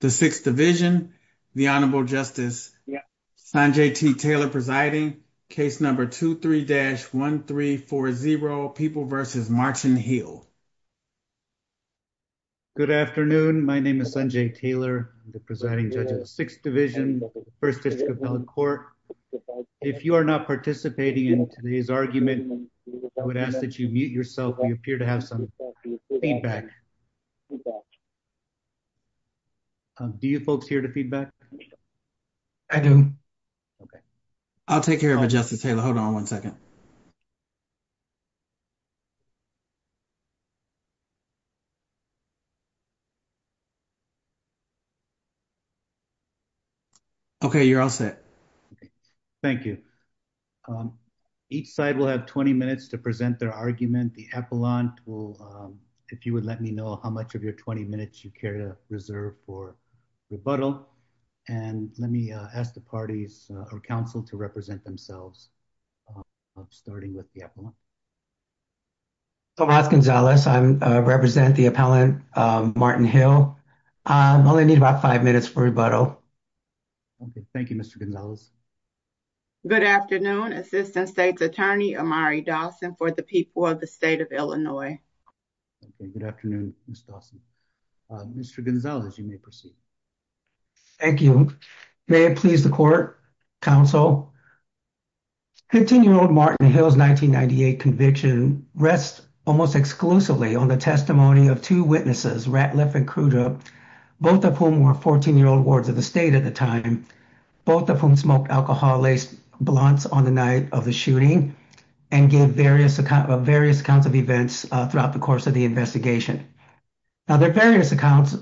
The 6th division, the Honorable Justice Sanjay T. Taylor presiding, case number 23-1340, People v. Martin Hill. Good afternoon. My name is Sanjay Taylor. I'm the presiding judge of the 6th division, First District of Belmont Court. If you are not participating in today's argument, I would ask that you mute yourself. You appear to have some feedback. Do you folks hear the feedback? I do. Okay. I'll take care of it, Justice Taylor. Hold on one second. Okay, you're all set. Thank you. Each side will have 20 minutes to present their argument. The reserve for rebuttal. And let me ask the parties or counsel to represent themselves, starting with the appellant. So, I'm Gonzales. I represent the appellant, Martin Hill. I only need about five minutes for rebuttal. Okay. Thank you, Mr. Gonzales. Good afternoon. Assistant State's Attorney, Amari Dawson for the people of the state of Illinois. Good afternoon. Mr. Gonzales, you may proceed. Thank you. May it please the court, counsel, 15-year-old Martin Hill's 1998 conviction rests almost exclusively on the testimony of two witnesses, Ratliff and Crudup, both of whom were 14-year-old wards of the state at the time, both of whom smoked alcohol-laced blunts on the night of the shooting and gave various accounts of events throughout the course of the investigation. Now, the various accounts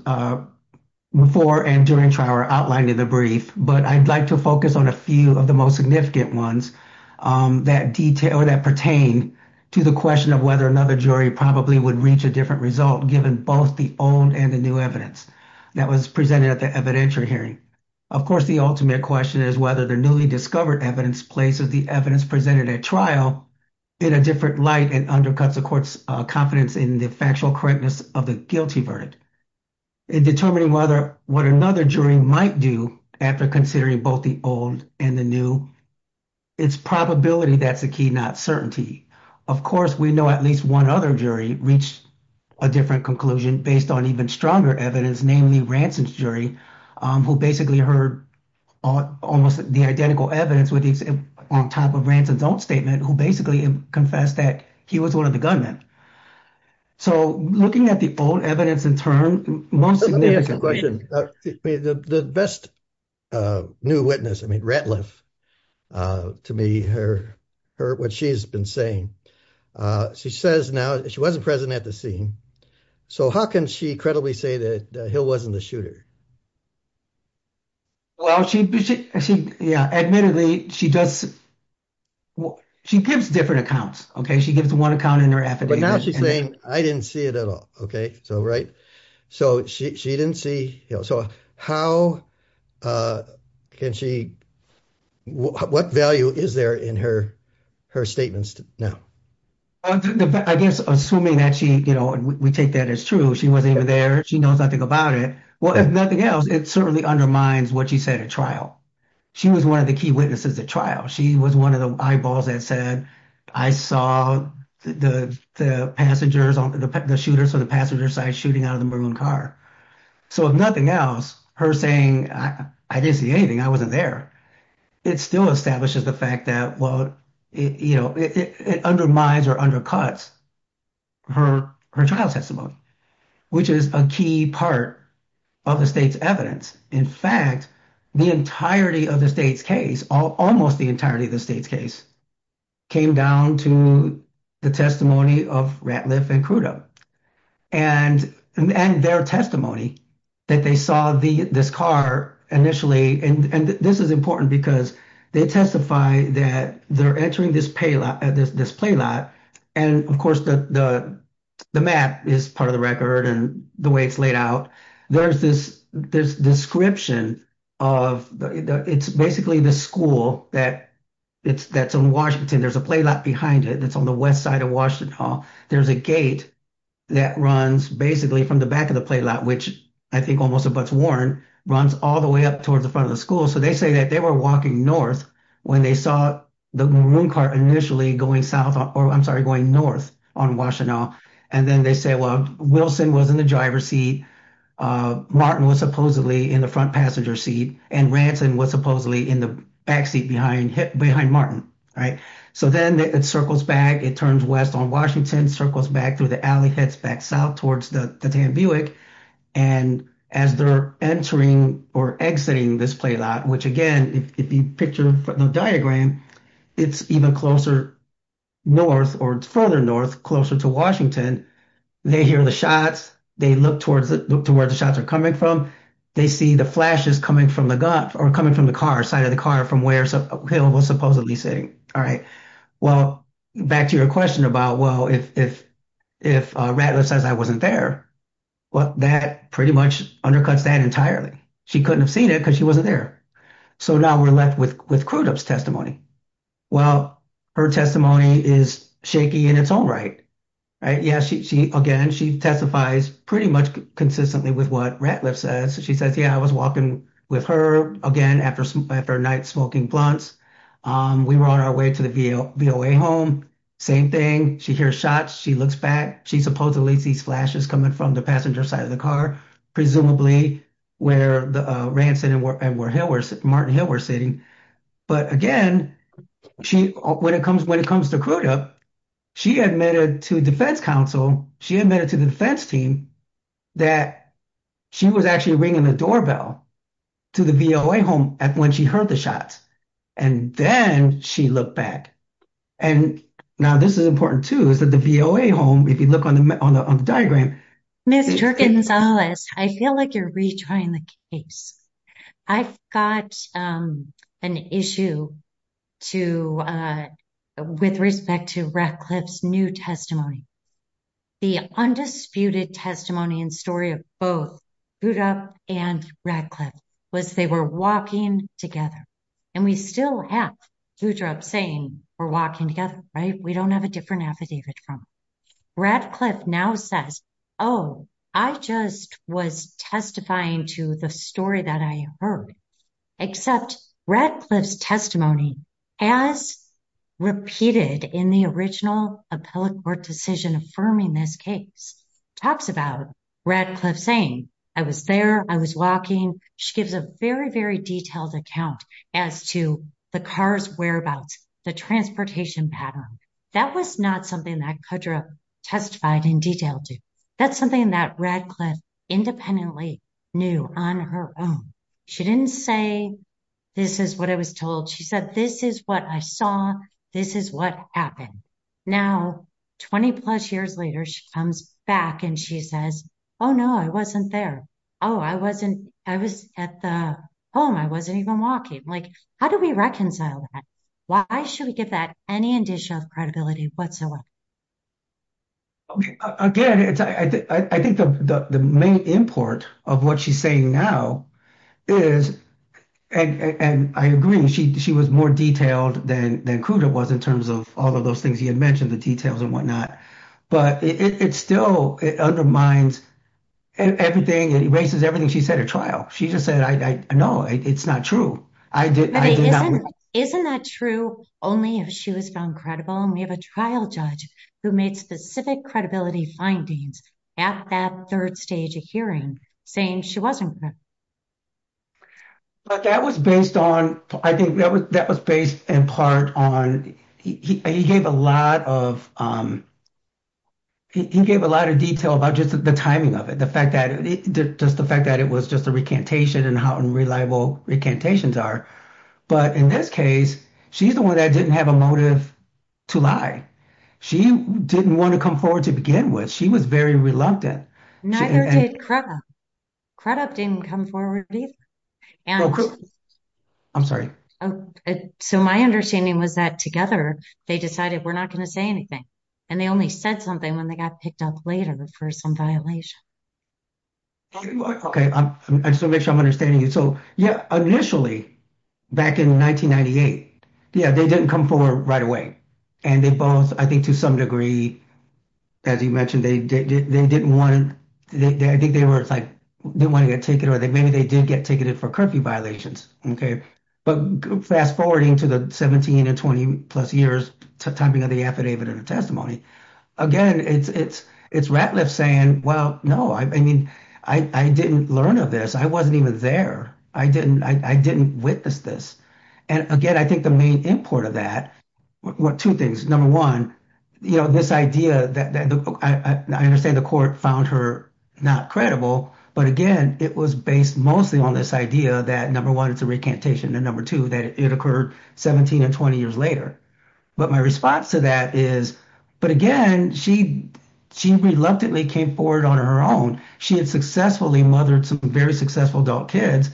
before and during trial are outlined in the brief, but I'd like to focus on a few of the most significant ones that pertain to the question of whether another jury probably would reach a different result given both the old and the new evidence that was presented at the evidentiary hearing. Of course, the ultimate question is whether the newly discovered evidence places the evidence presented at trial in a different light and undercuts the court's confidence in the factual correctness of the guilty verdict. In determining whether what another jury might do after considering both the old and the new, it's probability that's the key, not certainty. Of course, we know at least one other jury reached a different conclusion based on even stronger evidence, namely Ranson's jury, who basically heard almost the identical evidence on top of Ranson's own statement, who basically confessed that he was one of the gunmen. So, looking at the old evidence in turn... Let me ask a question. The best new witness, I mean, Ratliff, to me, what she has been saying, she says now she wasn't present at the scene, so how can she credibly say that Hill wasn't the shooter? Admittedly, she gives different accounts. She gives one account in her affidavit. But now she's saying, I didn't see it at all. So, how can she... What value is there in her statements now? I guess, assuming that we take that as true, she wasn't even there, she knows nothing about it. Well, if nothing else, it certainly undermines what she said at trial. She was one of the key witnesses at trial. She was one of the eyeballs that said, I saw the shooter from the passenger side shooting out of a maroon car. So, if nothing else, her saying, I didn't see anything, I wasn't there, it still establishes the fact that, well, it undermines or undercuts her trial testimony, which is a key part of the state's evidence. In fact, the entirety of the state's case, almost the entirety of the state's case, came down to the testimony of Ratliff and Crudo. And their testimony that they saw this car initially, and this is important because they testified that they're entering this play lot. And of course, the map is part of the record and the way it's laid out. There's this description of... It's basically the school that's in Washington. There's a play lot behind it. It's on the west side of Washington. There's a gate that runs basically from the back of the play lot, which I think almost a buck's warrant, runs all the way up towards the front of the school. So, they say that they were walking north when they saw the maroon car initially going south, or I'm sorry, going north on Washtenaw. And then they say, well, Wilson was in the driver's seat, Martin was supposedly in the front passenger seat, and Ranson was supposedly in the backseat behind Martin. So, then it circles back, turns west on Washington, circles back through the alley, heads back south towards the Dan Buick. And as they're entering or exiting this play lot, which again, if you picture the diagram, it's even closer north or further north, closer to Washington. They hear the shots, they look to where the shots are coming from, they see the flashes coming from the gun, or coming from the car, side of the car from where Hill was supposedly sitting. All right. Well, back to your question about, well, if Ratliff says I wasn't there, well, that pretty much undercuts that entirely. She couldn't have seen it because she wasn't there. So, now we're left with Crudup's testimony. Well, her testimony is shaky in its own right, right? Yeah, again, she testifies pretty much consistently with what Ratliff says. She says, yeah, I was walking with her, again, after a night smoking blunts. We were on our way to the VOA home, same thing. She hears shots, she looks back, she supposedly sees flashes coming from the passenger's side of the car, presumably where Ranson and Martin Hill were sitting. But again, when it comes to Crudup, she admitted to defense counsel, she admitted to the defense team that she was actually in the doorbell to the VOA home when she heard the shots, and then she looked back. And now this is important, too, is that the VOA home, if you look on the diagram. Mr. Gonzalez, I feel like you're retrying the case. I've got an issue with respect to Ratliff's new testimony. The undisputed testimony and story of both Crudup and Ratliff was they were walking together. And we still have Crudup saying, we're walking together, right? We don't have a different affidavit now. Ratliff now says, oh, I just was testifying to the story that I heard. Except Ratliff's testimony, as repeated in the original appellate court decision affirming this case, talks about Ratliff saying, I was there. I was walking. She gives a very, very detailed account as to the car's whereabouts, the transportation pattern. That was not something that Crudup testified in detail to. That's something that Ratliff independently knew on her own. She didn't say, this is what I was told. She said, this is what I saw. This is what happened. Now, 20 plus years later, she comes back and she says, oh, no, I wasn't there. Oh, I was at the home. I wasn't even walking. Like, how do we reconcile that? Why should we give that any additional credibility whatsoever? Again, I think the main import of what she's saying now is, and I agree, she was more detailed than Crudup was in terms of all of those things he had mentioned, the details and whatnot. But it still undermines everything. It erases everything she said at trial. She just said, no, it's not true. Isn't that true only if she was found credible? And we have a trial judge who made specific credibility findings at that third stage of hearing saying she wasn't there. But that was based on, I think that was based in part on, he gave a lot of detail about just the timing of it. Just the fact that it was just a recantation and how unreliable recantations are. But in this case, she's the one that didn't have a motive to lie. She didn't want to come forward to begin with. She was very reluctant. Neither did Crudup. Crudup didn't come forward. I'm sorry. So my understanding was that together, they decided we're not going to say anything. And they only said something when they got picked up later was for some violation. Okay. I'm still making sure I'm understanding you. So, yeah, initially, back in 1998, yeah, they didn't come forward right away. And they both, I think to some degree, as you mentioned, they didn't want to take it or maybe they did get ticketed for curfew violations. Okay. But fast forwarding to the 17 and 20 plus years to the time of the affidavit or the testimony. Again, it's Ratliff saying, well, no, I mean, I didn't learn of this. I wasn't even there. I didn't witness this. And again, I think the main import of that, two things. Number one, you know, this idea that I understand the court found her not credible. But again, it was based mostly on this idea that number one, it's a recantation, and number two, that it occurred 17 and 20 years later. But my response to that is, but again, she reluctantly came forward on her own. She had successfully mothered two very successful adult kids.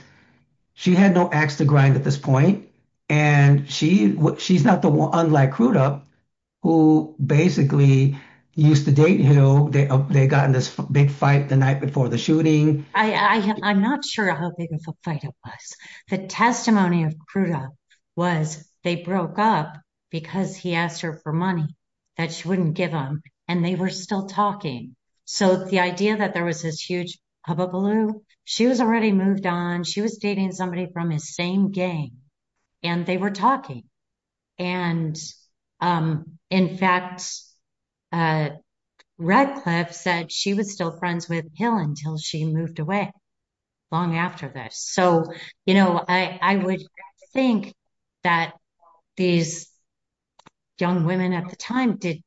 She had no axe to grind at this point. And she's not the one, unlike Crudup, who basically used to date him. They got in this big fight the night before the shooting. I'm not sure how big of a fight it was. The testimony of Crudup was they broke up because he asked her for money that she wouldn't give him. And they were still talking. So the idea that there was this huge hubbubaloo, she was already moved on. She was dating somebody from the same gang, and they were talking. And in fact, Ratliff said she was still friends with Hill until she moved away long after this. So, you know, I would think that these young women at the time did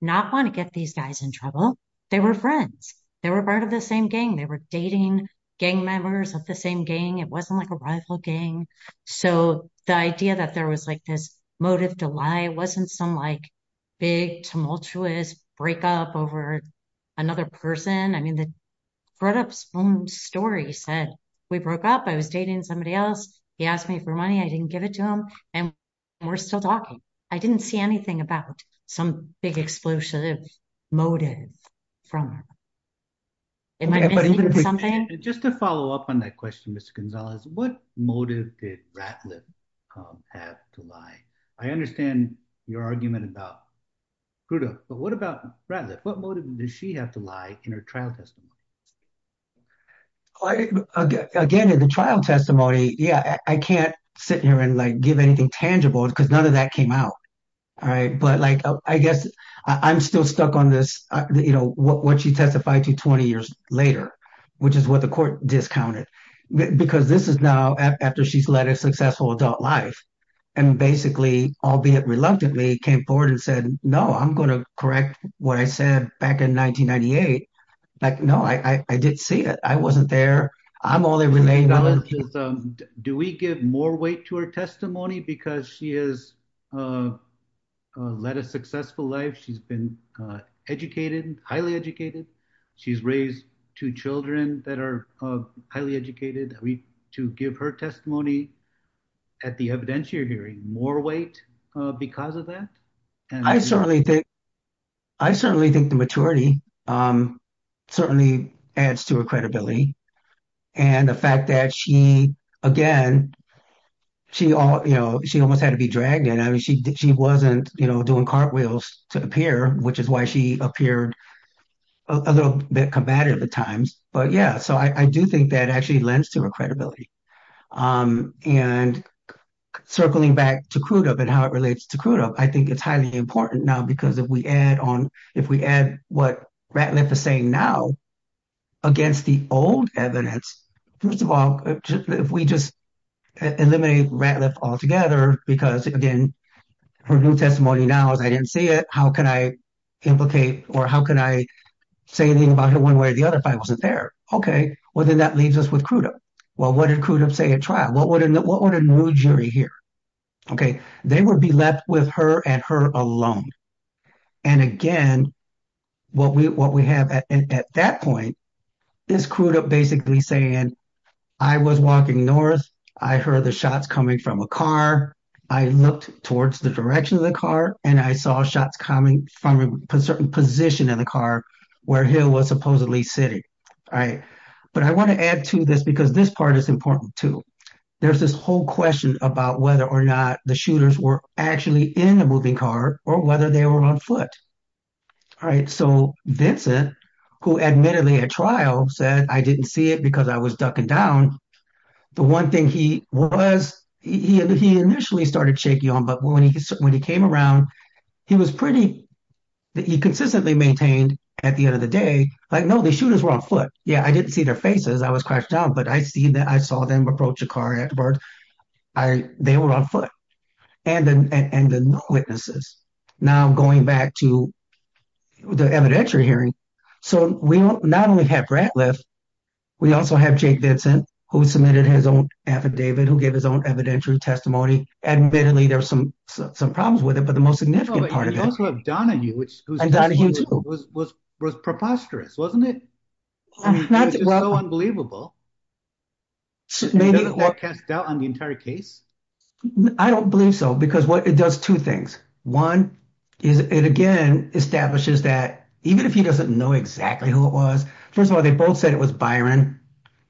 not want to get these guys in trouble. They were friends. They were part of the same gang. They were dating gang members of the same gang. It wasn't like a rival gang. So the idea that there was like this motive to lie wasn't some like big tumultuous breakup over another person. I mean, Crudup's own story said, we broke up. I was dating somebody else. He asked me for money. I didn't give it to him. And we're still talking. I didn't see anything about some big explosive motive from her. Just to follow up on that question, Mr. Gonzalez, what motive did Ratliff have to lie? I understand your argument about Crudup, but what about Ratliff? What motive did she have to lie in her trial testimony? Again, in the trial testimony, yeah, I can't sit here and like give anything tangible because none of that came out. All right. But like, I guess I'm still stuck on this, you know, what she testified to 20 years later, which is what the court discounted. Because this is now after she's led a successful adult life and basically, albeit reluctantly, came forward and said, no, I'm going to correct what I said back in 1998. But no, I didn't see it. I wasn't there. I'm only relayed on it. Do we give more weight to her testimony because she has led a successful life? She's been educated, highly educated. She's raised two children that are highly educated. To give her testimony at the evidentiary hearing, more weight because of that? I certainly think the maturity certainly adds to her credibility. And the fact that she, again, she almost had to be dragged in. I mean, she wasn't doing cartwheels to appear, which is why she appeared a little bit combative at times. But yeah, so I do think that actually lends to her credibility. And circling back to Crudup and how it relates to Crudup, I think it's highly important now because if we add on, if we add what Ratliff is saying now against the old evidence, first of all, if we just eliminate Ratliff altogether, because again, her new testimony now is I didn't see it. How can I implicate or how can I say anything about her one way or the other if I wasn't there? Okay. Well, then that leaves us with Crudup. Well, what did Crudup say at trial? What would a new jury hear? Okay. They would be left with her and her alone. And again, what we have at that point is Crudup basically saying, I was walking north. I heard the shots coming from a car. I looked towards the direction of the car and I saw shots coming from a certain position of the car where he was supposedly sitting. But I want to add to this because this part is important too. There's this whole question about whether or not the shooters were actually in the moving car or whether they were on foot. So Vincent, who admittedly at trial said, I didn't see it because I was ducking down. The one thing he was, he initially started shaking on, but when he came around, he was pretty, he consistently maintained at the end of the day, like, no, the shooters were on foot. Yeah. I didn't see their faces. I was crouched down, but I see that I saw them approach a car. They were on foot. And the witnesses now going back to the evidentiary hearing. So we not only have Bratliff, we also have Jake Vincent, who submitted his own affidavit, who gave his own evidentiary testimony. And admittedly, there's some problems with it, but the most significant part of it. But you also have Donahue, who was preposterous, wasn't it? It's so unbelievable. Maybe. Doesn't that cast doubt on the entire case? I don't believe so, because it does two things. One, it again establishes that, even if he doesn't know exactly who it was, first of all, they both said it was Byron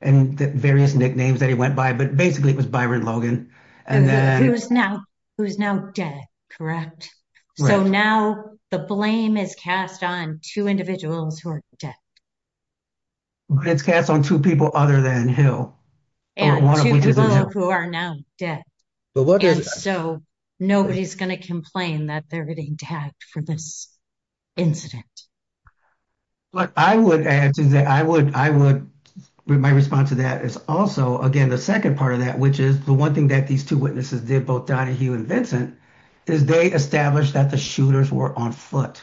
and various nicknames that he went by, but basically it was Byron Logan. Who is now dead, correct? So now the blame is cast on two individuals who are dead. It's cast on two people other than him. And two people who are now dead. And so nobody's going to complain that they're getting tagged for this incident. But I would add to that, I would, my response to that is also, again, the second part of that, which is the one thing that these two witnesses did, both Donahue and Vincent, is they established that the shooters were on foot.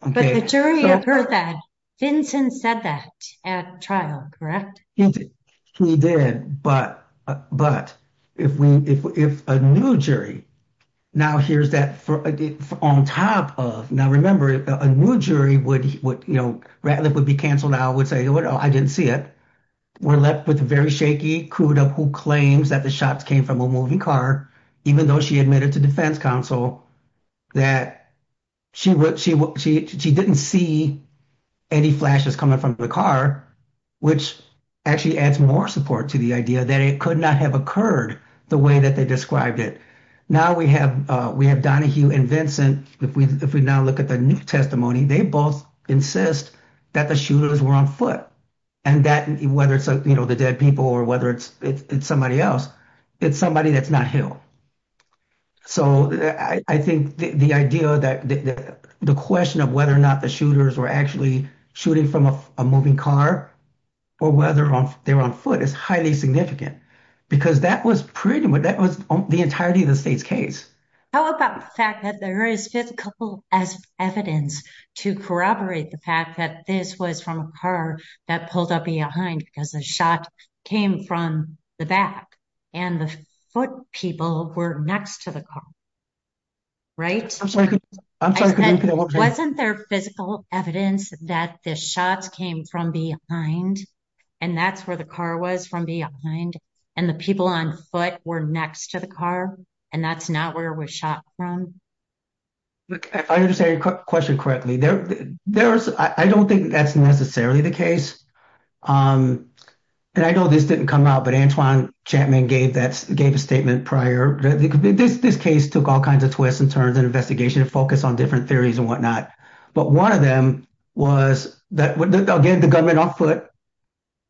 But the jury has heard that. Vincent said that at trial, correct? Yes, he did. But if a new jury now hears that on top of, now remember, if a new jury would, you know, Ratliff would be canceled out, would say, well, I didn't see it. We're left with very shaky Cuda, who claims that the shots came from a moving car, even though she admitted to defense counsel that she didn't see any flashes coming from the car, which actually adds more support to the idea that it could not have occurred the way that they described it. Now we have Donahue and Vincent, if we now look at their new testimony, they both insist that the shooters were on foot. And that, whether it's, you know, the dead people or whether it's somebody else, it's somebody that's not him. So I think the idea that the question of whether or not the shooters were actually shooting from a moving car or whether they were on foot is highly significant, because that was pretty much, that was the entirety of the state's case. How about the fact that there is difficult as evidence to corroborate the fact that this was from a car that pulled up behind, because the shot came from the back and the foot people were next to the car, right? Wasn't there physical evidence that this shot came from behind, and that's where the car was from behind, and the people on foot were next to the car, and that's not where it was shot from? Look, I understand your question correctly. There's, I don't think that's necessarily the case, and I know this didn't come out, but Antoine Chapman gave that, gave a statement prior. This case took all kinds of twists and turns in investigation, focused on different theories and whatnot, but one of them was that, again, the gunman on foot,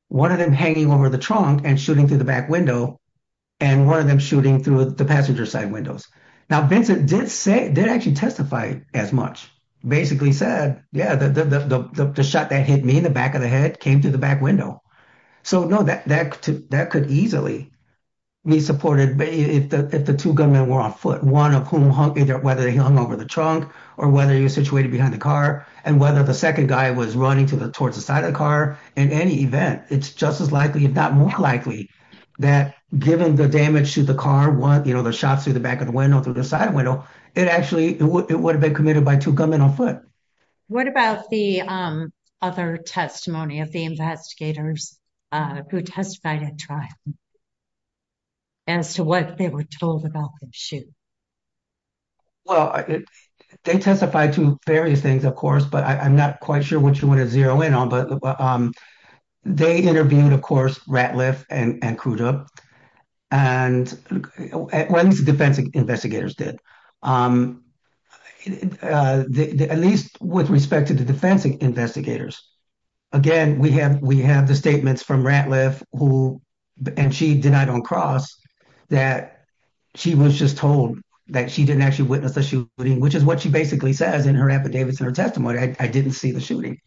one of them hanging over the trunk and shooting through the back window, and one of them shooting through the passenger side windows. Now Vincent did say, didn't actually testify as much, basically said, yeah, the shot that hit me in the back of the head came through the back window. So, no, that could easily be supported if the two gunmen were on foot, one of whom hung either, whether he hung over the trunk or whether he was situated behind the car, and whether the second guy was running towards the side of the car. In any event, it's just as likely, if not more likely, that given the damage to the car, one, you know, shot through the back of the window, through the side window, it actually, it would have been committed by two gunmen on foot. What about the other testimony of the investigators who testified at trial as to what they were told about the shoot? Well, they testified to various things, of course, but I'm not quite sure what you want to zero in on, but they intervened, of course, Ratliff and Crudup, and at least the defense investigators did, at least with respect to the defense investigators. Again, we have the statements from Ratliff, and she denied on cross, that she was just told that she didn't actually witness the shooting, which is what she basically said in her affidavits and her testimony, I didn't see the shooting.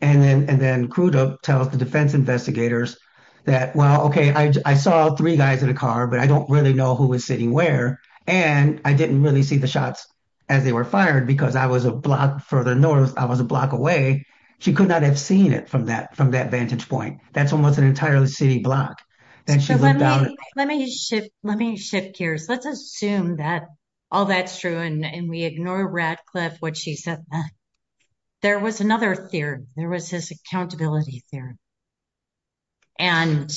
And then Crudup tells the defense investigators that, well, okay, I saw three guys in the car, but I don't really know who was sitting where, and I didn't really see the shots as they were fired because I was a block further north, I was a block away. She could not have seen it from that vantage point. That's almost an entirely city block. Let me shift gears. Let's assume that that's true, and we ignore Ratliff, what she said. There was another theory, there was this accountability theory. And,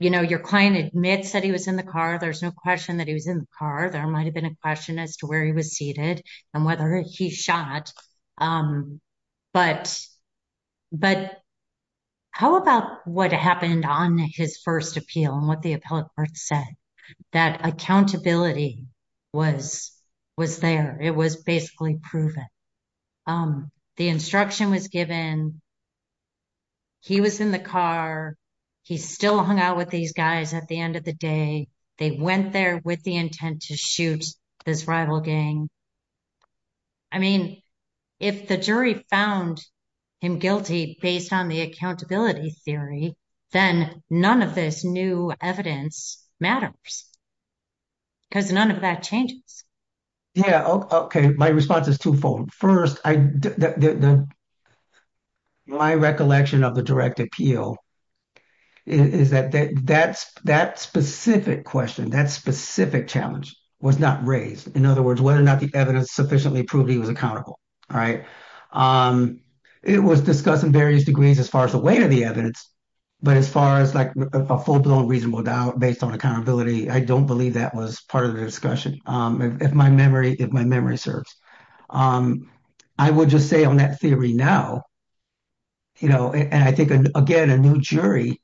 you know, your client admits that he was in the car, there's no question that he was in the car. There might have been a question as to where he was seated and whether he shot. But how about what happened on his first appeal and what the appellate said? That accountability was there, it was basically proven. The instruction was given, he was in the car, he still hung out with these guys at the end of the day, they went there with the intent to shoot his rival gang. I mean, if the jury found him guilty based on the accountability theory, then none of this new evidence matters, because none of that changes. Yeah, okay, my response is twofold. First, my recollection of the direct appeal is that that specific question, that specific challenge was not raised. In other words, whether or not the evidence sufficiently proved he was accountable, right? It was discussed in various degrees as far as the weight of the evidence, but as far as, like, a full-blown reasonable doubt based on accountability, I don't believe that was part of the discussion, if my memory serves. I would just say on that theory now, you know, and I think, again, a new jury,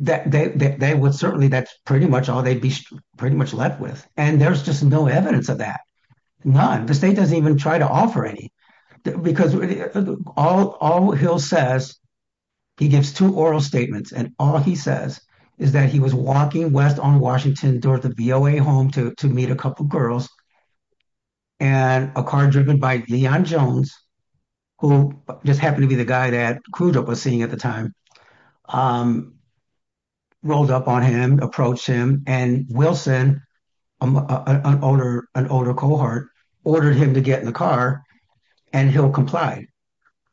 that they would certainly, that's pretty much all they'd be pretty much left with. And there's just no evidence of that. None. The state doesn't even try to offer any, because all Hill says, he gets two oral statements, and all he says is that he was walking west on Washington Door at the VOA home to meet a couple girls, and a car driven by Leon Jones, who just happened to be the guy that Kudo was sitting at the time, um, rolled up on him, approached him, and Wilson, an older cohort, ordered him to get in the car, and Hill complied.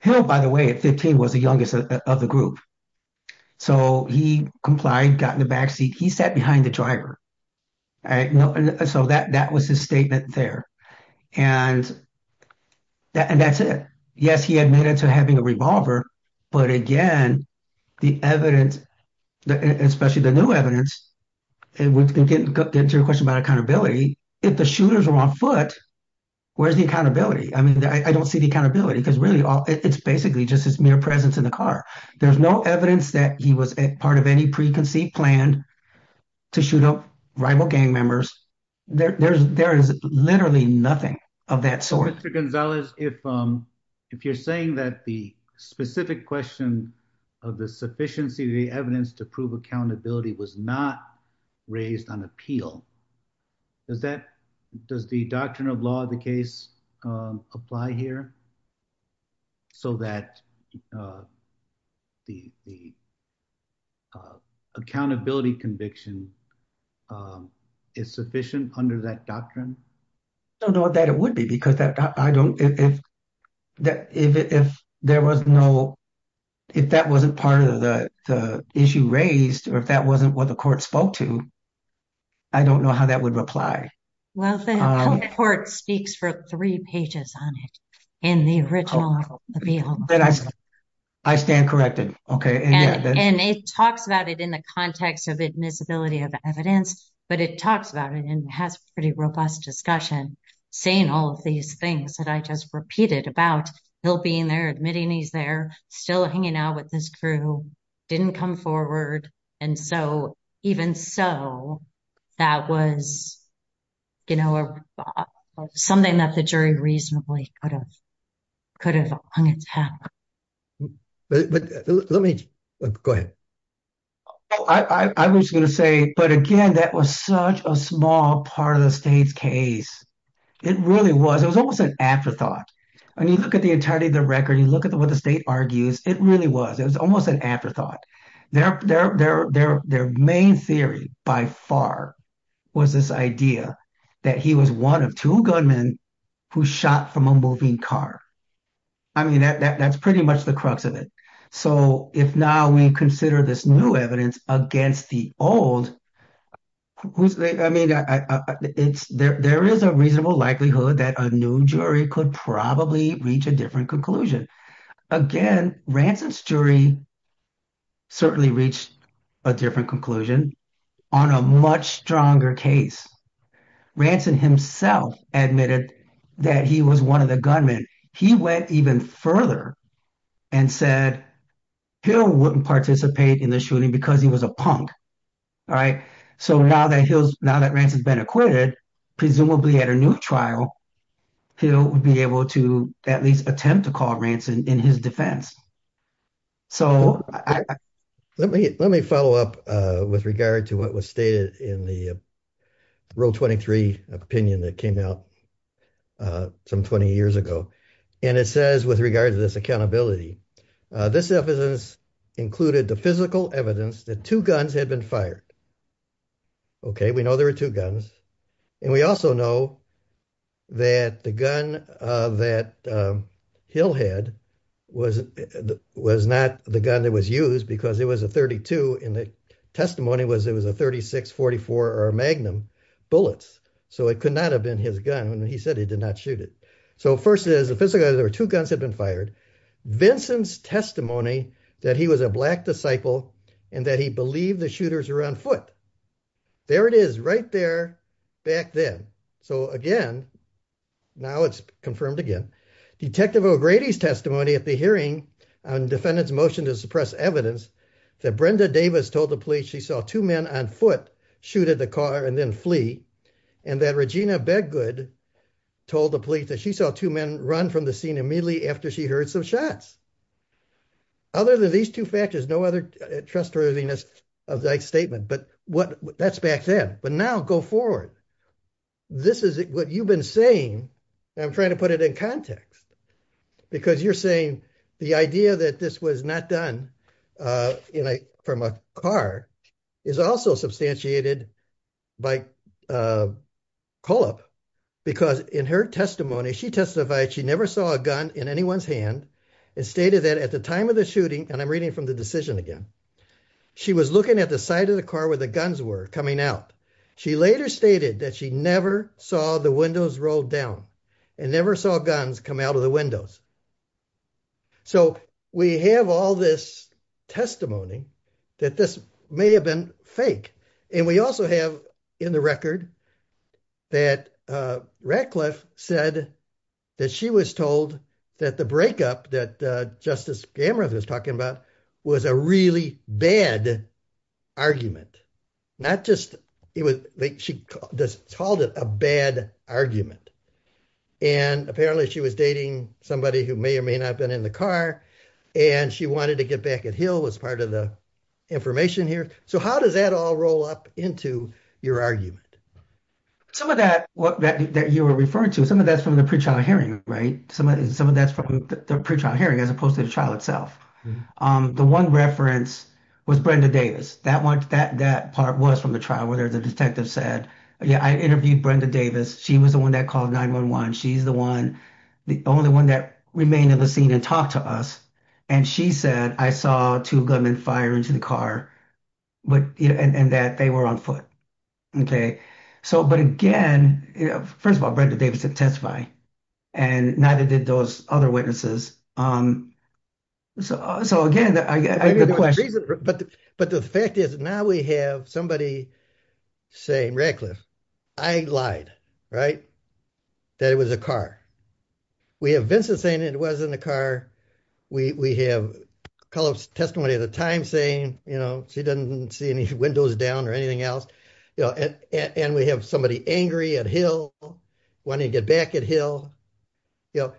Hill, by the way, at 15, was the youngest of the group. So, he complied, got in the backseat. He sat behind the driver. All right? So, that was his statement there. And that's it. Yes, he admitted to having a revolver, but again, the evidence, especially the new evidence, it would get into a question about accountability. If the shooters were on foot, where's the accountability? I mean, I don't see the accountability, because really, it's basically just his mere presence in the car. There's no evidence that he was part of any preconceived plan to shoot up rival gang members. There is literally nothing of that sort. Mr. Gonzalez, if you're saying that the specific question of the sufficiency of the evidence to prove accountability was not raised on appeal, does that, does the doctrine of law of the case apply here, so that the accountability conviction is sufficient under that doctrine? No, that it would be, because I don't, if there was no, if that wasn't part of the issue raised, or if that wasn't what the court spoke to, I don't know how that would apply. Well, the court speaks for three pages on it in the original appeal. I stand corrected. Okay. And they talked about it in the context of admissibility of evidence, but it talks about it and has pretty robust discussion, saying all of these things that I just repeated about still being there, admitting he's there, still hanging out with his crew, didn't come forward. And so, even so, that was, you know, something that the jury reasonably could have hung its head on. But let me, go ahead. I was going to say, but again, that was such a small part of the state's case. It really was, it was almost an afterthought. I mean, you look at the entirety of the record, you look at what the state argues, it really was, it was almost an afterthought. Their main theory by far was this idea that he was one of two gunmen who shot from a moving car. I mean, that's pretty much the crux of it. So, if now we consider this new evidence against the old, I mean, there is a reasonable likelihood that a new jury could probably reach a different conclusion. Again, Ransom's jury certainly reached a different conclusion on a much stronger case. Ransom himself admitted that he was one of the gunmen. He went even further and said he wouldn't participate in the shooting because he was a punk. All right. So, now that he'll, now that Ransom's been acquitted, presumably at a new trial, he'll be able to at least attempt to call Ransom in his defense. So, let me follow up with regard to what was stated in the Rule 23 opinion that came out some 20 years ago. And it says with regard to this accountability, this evidence included the physical evidence that two guns had been fired. Okay. We know there were two guns. And we also know that the gun that Hill had was not the gun that was used because it was a .32 and the testimony was it was a .36, .44, or Magnum bullets. So, it could not have been his gun when he said he did not shoot it. So, first is the physical, there were two guns had been fired. Vincent's testimony that he was a black disciple and that he believed the shooters were on foot. There it is right there back then. So, again, now it's confirmed again. Detective O'Grady's testimony at the hearing on defendant's motion to suppress evidence that Brenda Davis told the police she saw two men on foot shoot at the car and then flee. And that Regina Bedgood told the police that she saw two men run from the scene immediately after she heard some shots. Other than these two factors, no other trustworthiness of that statement. But that's back then. But now go forward. This is what you've been saying. I'm trying to put it in context. Because you're saying the idea that this was not done from a car is also substantiated by a call up. Because in her testimony, she testified she never saw a gun in anyone's hand and stated that at the time of the shooting, and I'm reading from the decision again, she was looking at the side of the car where the guns were coming out. She later stated that she never saw the windows rolled down and never saw guns come out of the windows. So, we have all this testimony that this may have been fake. And we also have in the record that Ratcliffe said that she was told that the breakup that Justice Gamera was talking about was a really bad argument. Not just she called it a bad argument. And apparently she was dating somebody who may not have been in the car. And she wanted to get back at Hill as part of the information here. So, how does that all roll up into your argument? Some of that that you were referring to, some of that's from the pretrial hearing, right? Some of that's from the pretrial hearing as opposed to the trial itself. The one reference was Brenda Davis. That part was from the trial where the detective said, yeah, I interviewed Brenda Davis. She was the one that called 911. She's the one, the only one that remained at the scene and talked to us. And she said, I saw two gunmen fire into the car and that they were on foot. Okay. So, but again, first of all, Brenda Davis didn't testify. And neither did those other witnesses. So, again, the question. But the fact is now we have somebody saying reckless, I lied, right? That it was a car. We have Vincent saying it wasn't a car. We have Carlos testimony at a time saying, you know, she doesn't see any windows down or anything else. And we have somebody angry at Hill. Want to get back at Hill. You know,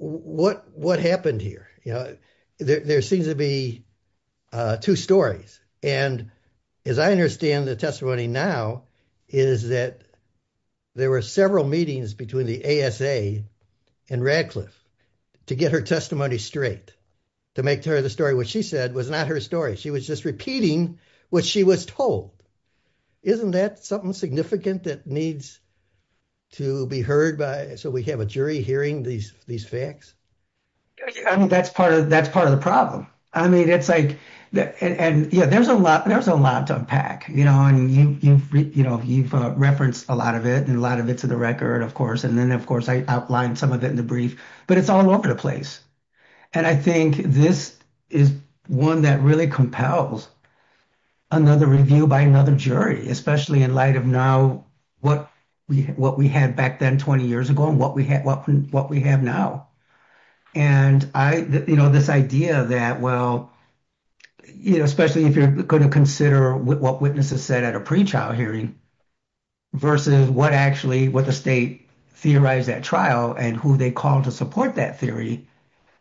what happened here? There seems to be two stories. And as I understand the testimony now is that there were several meetings between the ASA and Radcliffe to get her testimony straight, to make her the story. What she said was not her story. She was just repeating what she was told. Isn't that something significant that needs to be heard by, so we have a jury hearing these facts? That's part of the problem. I mean, it's like, yeah, there's a lot to unpack. You know, you've referenced a lot of it and a lot of it's in the record, of course. And then, of course, I outlined some of it in the brief, but it's all over the place. And I think this is one that really compels another review by another jury, especially in light of now what we had back then 20 years ago and what we have now. And, you know, this idea that, well, you know, especially if you're going to consider what witnesses said at a pre-trial hearing versus what actually what the state theorized at trial and who they called to support that theory.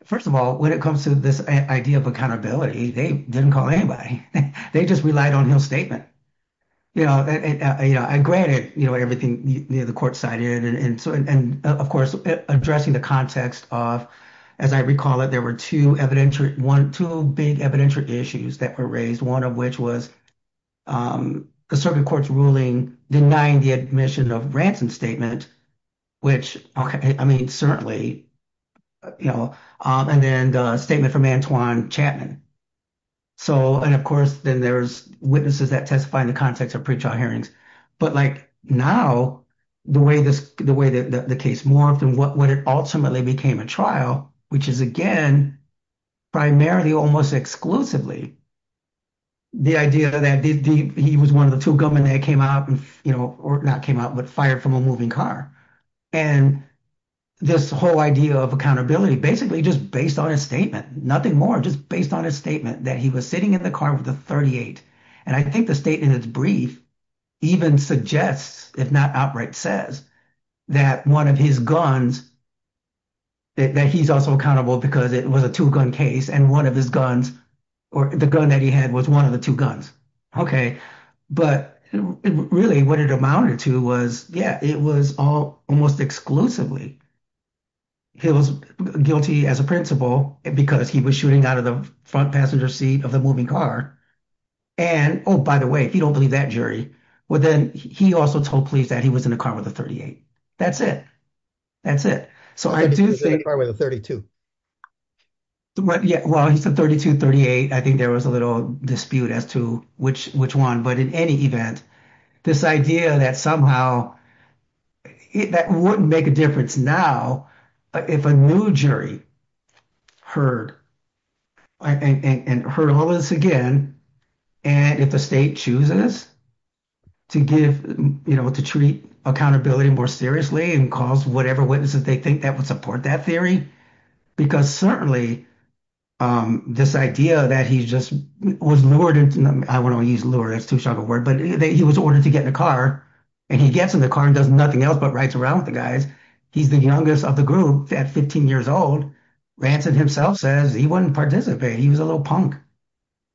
First of all, when it comes to this idea of accountability, they didn't call anybody. They just relied on no statement. You know, I agree, you know, everything the court cited. And, of course, addressing the context of, as I recall it, there were two big evidentiary issues that were raised, one of which was the circuit court's ruling denying the admission of ransom statement, which, I mean, certainly, you know, and then the statement from Antoine Chapman. So, and, of course, then there's witnesses that testify in the context of pre-trial hearings. But, like, now, the way that the case worked and what ultimately became a trial, which is, again, primarily almost exclusively the idea that he was one of the two government that came out and, you know, or not came out, but fired from a moving car. And this whole idea of accountability, basically just based on a statement, nothing more, just based on a statement that he was sitting in the car with a .38. And I think the statement is brief, even suggests, if not outright says, that one of his guns, that he's also accountable because it was a two-gun case and one of his guns, or the gun that he had was one of the two guns. Okay. But really what it amounted to was it was all almost exclusively he was guilty as a principal because he was shooting out of the front passenger seat of the moving car. And, oh, by the way, he don't believe that jury. Well, then he also told police that he was in the car with a .38. That's it. That's it. So, I do think... He was in the car with a .32. Yeah. Well, he's a .32, .38. I think there was a little dispute as to which one, but in any event, this idea that somehow, that wouldn't make a difference now if a new jury heard and heard all of this again, and if the state chooses to give, you know, to treat accountability more seriously and calls whatever witnesses they think that would support that theory, because certainly this idea that he's just was lured into... I don't know if he's lured. That's too strong a word. But he was ordered to get in the car, and he gets in the car and does nothing else but writes around the guys. He's the youngest of the group. That's 15 years old. Ransom himself says he wouldn't participate. He was a little punk.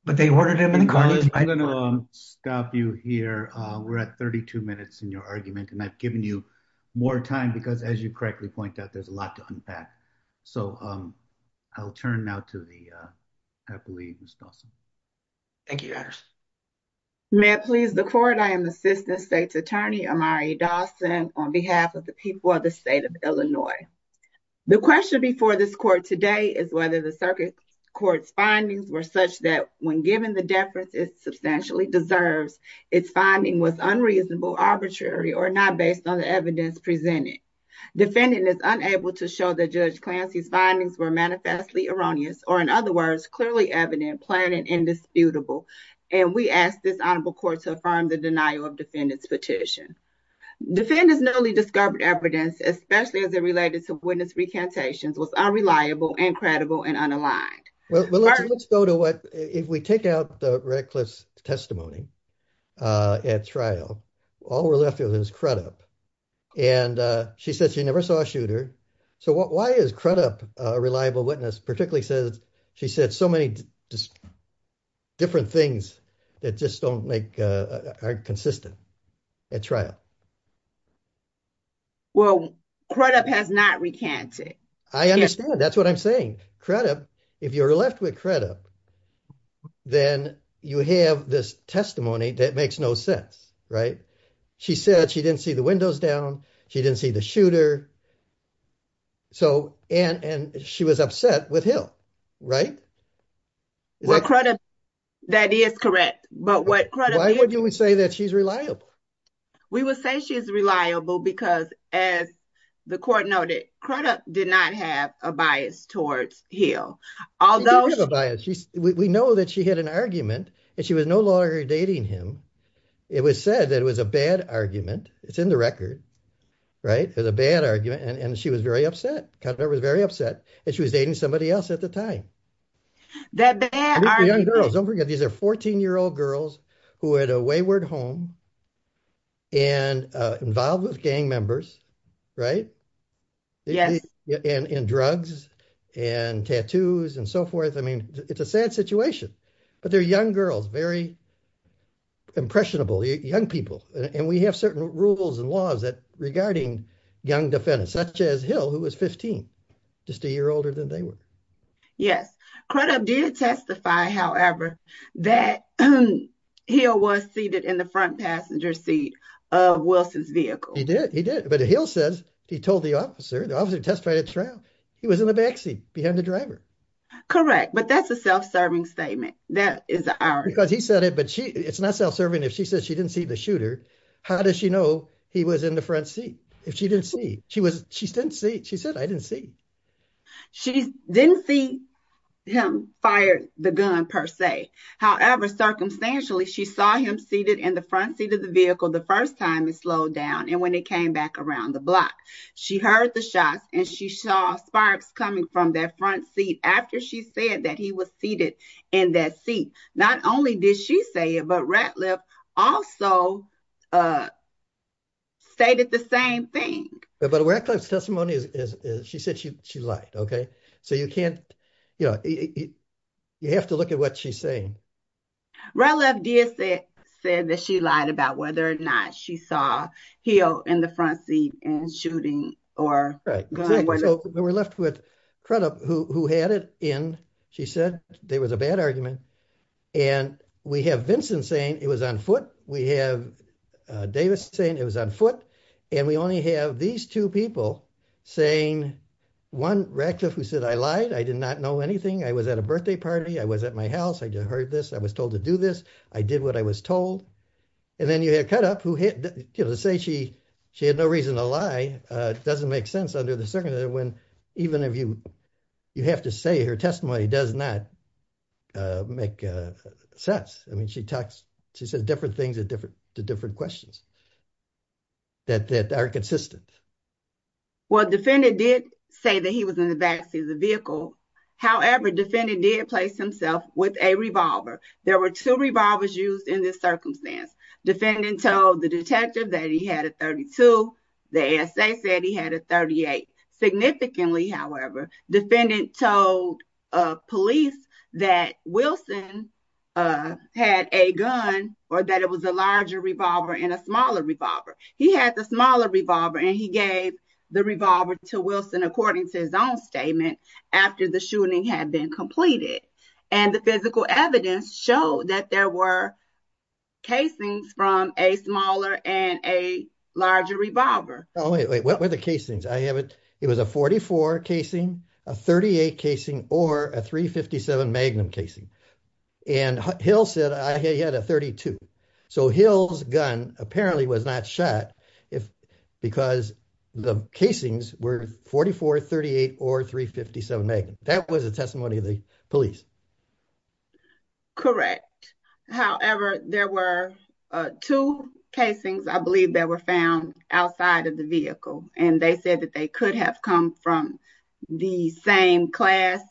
But they ordered him in the car. I'm going to stop you here. We're at 32 minutes in your argument, and I've given you more time because, as you correctly point out, there's a lot to unpack. So I'll turn now to the lead, Ms. Thompson. Thank you, Harris. May it please the court, I am Assistant State's Attorney Amari Dawson on behalf of the people of the state of Illinois. The question before this court today is whether the circuit court's findings were such that when given the deference it substantially deserves, its finding was unreasonable, arbitrary, or not based on the evidence presented. Defendant is unable to show that Judge Clancy's findings were manifestly erroneous, or in other words, clearly evident, planned, and indisputable. And we ask this honorable court to affirm the denial of defendant's petition. Defendant's newly discovered evidence, especially as it related to witness recantations, was unreliable, incredible, and unaligned. Let's go to what... If we take out the reckless testimony at trial, all we're left with is Crudup. And she says she never saw a shooter. So why is Crudup a reliable witness, particularly since she said so many different things that just don't make... aren't consistent at trial? Well, Crudup has not recanted. I understand. That's what I'm saying. Crudup, if you're left with Crudup, then you have this testimony that makes no sense, right? She said she didn't see the windows down. She didn't see the shooter. So, and she was upset with Hill, right? Well, Crudup, that is correct. But what Crudup... Why did you say that she's reliable? We would say she's reliable because, as the court noted, Crudup did not have a bias towards Hill. Although... She did have a bias. We know that she had an argument and she was no longer dating him. It was said that it was a bad argument. It's in the record, right? It was a bad argument. And she was very upset. Crudup was very upset that she was dating somebody else at the time. That bad argument... Young girls, don't forget, these are 14-year-old girls who had a wayward home and involved with gang members, right? And drugs and tattoos and so forth. I mean, it's a sad situation. But they're young girls, very impressionable young people. And we have certain rules and laws regarding young defendants, such as Hill, who was 15, just a year older than they were. Yes. Crudup did testify, however, that Hill was seated in the front passenger seat of Wilson's vehicle. He did. He did. But Hill says he told the officer, the officer testified at trial, he was in the back seat behind the driver. Correct. But that's a self-serving statement. That is an argument. Because he said it, but it's not self-serving if she says she didn't see the shooter. How does she know he was in the front seat if she didn't see? She said, I didn't see. She didn't see him fire the gun, per se. However, circumstantially, she saw him seated in the front seat of the vehicle the first time it slowed down and when it came back around the block. She heard the shots, and she saw sparks coming from that front seat after she said that he was seated in that seat. Not only did she say it, but Ratliff also stated the same thing. But Ratliff's testimony is, she said she lied, OK? So you can't, you know, whether or not she saw Hill in the front seat and shooting. We're left with Crudup, who had it, and she said there was a bad argument. And we have Vincent saying it was on foot. We have Davis saying it was on foot. And we only have these two people saying, one, Ratliff, who said, I lied. I did not know anything. I was at a birthday party. I was at my house. I just heard this. I was told to do this. I did what I was told. And then you had Crudup, who said she had no reason to lie. It doesn't make sense under the circumstances when even if you have to say her testimony does not make sense. I mean, she talked, she said different things to different questions that are consistent. Well, defendant did say that he was in the back seat of the vehicle. However, defendant did place himself with a revolver. There were two revolvers used in this circumstance. Defendant told the detective that he had a .32. The ASA said he had a .38. Significantly, however, defendant told police that Wilson had a gun or that it was a larger revolver and a smaller revolver. He had the smaller revolver, and he gave the revolver to Wilson according to his own statement after the shooting had been completed. And the physical evidence showed that there were casings from a smaller and a larger revolver. Oh, wait. What were the casings? It was a .44 casing, a .38 casing, or a .357 magnum casing. And Hill said he had a .32. So, Hill's gun apparently was not shot because the casings were .44, .38, or .357 magnum. That was a testimony of the police. Correct. However, there were two casings, I believe, that were found outside of the vehicle, and they said that they could have come from the same class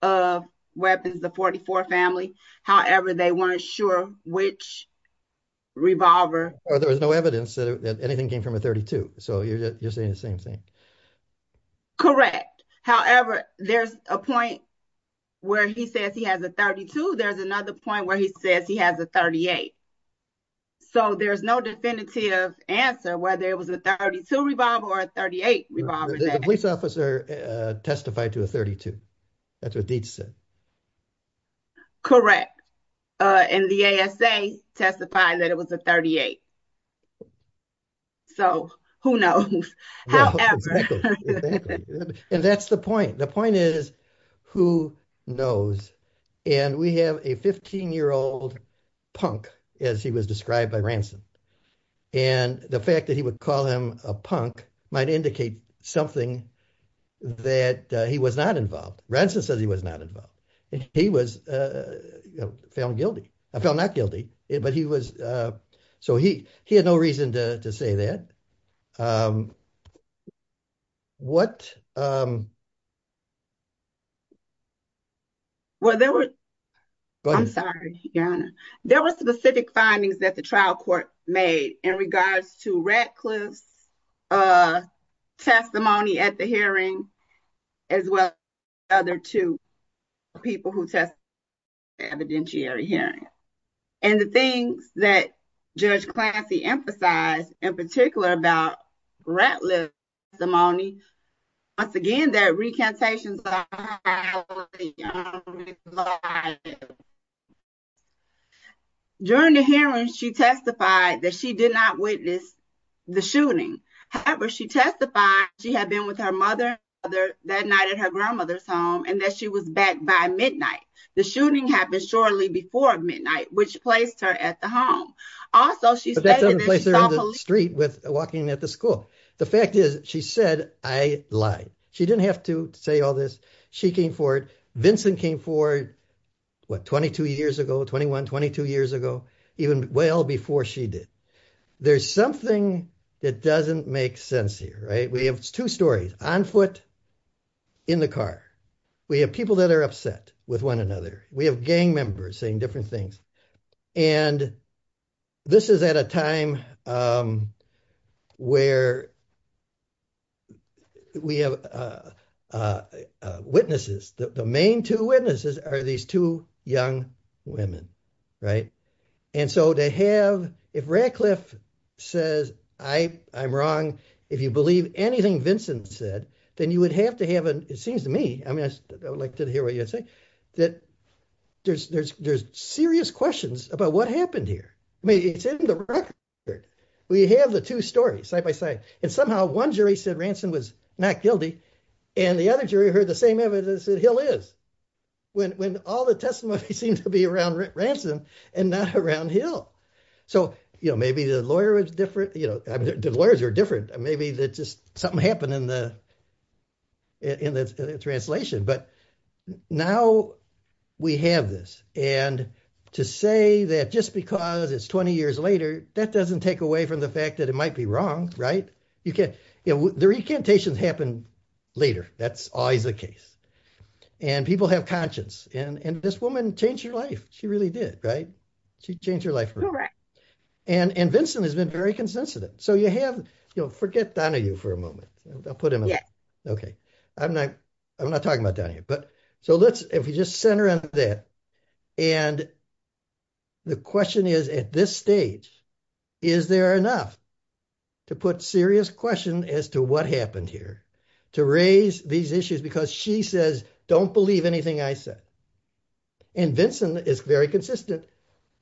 of weapons, the .44 family. However, they weren't sure which revolver. There was no evidence that anything came from a .32, so you're saying the same thing. Correct. However, there's a point where he says he has a .32. There's another point where he says he has a .38. So, there's no definitive answer whether it was a .32 revolver or a .38 revolver. The police officer testified to a .32. That's what Dietz said. Correct. And the ASA testified that it was a .38. So, who knows? And that's the point. The point is, who knows? And we have a 15-year-old punk, as he was described by Ramson. And the fact that he would call him a punk might indicate something that he was not involved. Ramson said he was not involved. He was found guilty. Found not guilty, but he was... So, he had no reason to say that. What... Well, there was... I'm sorry. There was specific findings that the trial court made in regards to Ratcliffe's testimony at the hearing, as well as the other two people who testified at the bench area hearing. And the thing that Judge Clampy emphasized, in particular, about Ratcliffe's testimony, once again, that recantation... During the hearing, she testified that she did not witness the shooting. However, she testified she had been with her mother that night at her grandmother's home, and that she was back by midnight. The shooting happened shortly before midnight, which placed her at the home. Also, that doesn't replace her on the street walking at the school. The fact is, she said, I lied. She didn't have to say all this. She came forward. Vincent came forward, what, 22 years ago, 21, 22 years ago, even well before she did. There's something that doesn't make sense here, right? We have two stories, on foot, in the car. We have people that are upset with another. We have gang members saying different things. And this is at a time where we have witnesses. The main two witnesses are these two young women, right? And so, to have, if Ratcliffe says, I'm wrong, if you believe anything Vincent said, then you would have to believe it. There's serious questions about what happened here. It's in the record. We have the two stories, side by side. And somehow, one jury said Ransom was not guilty, and the other jury heard the same evidence that Hill is, when all the testimony seems to be around Ransom and not around Hill. So, you know, maybe the lawyers are different. Maybe something happened in the translation. But now, we have this. And to say that just because it's 20 years later, that doesn't take away from the fact that it might be wrong, right? The recantations happen later. That's always the case. And people have conscience. And this woman changed her life. She really did, right? She changed her life. And Vincent has been very consensitive. So, you have, you know, forget Donahue for a moment. I'll put him away. Okay. I'm not talking about Donahue. So, if we just center on that. And the question is, at this stage, is there enough to put serious questions as to what happened here to raise these issues? Because she says, don't believe anything I said. And Vincent is very consistent.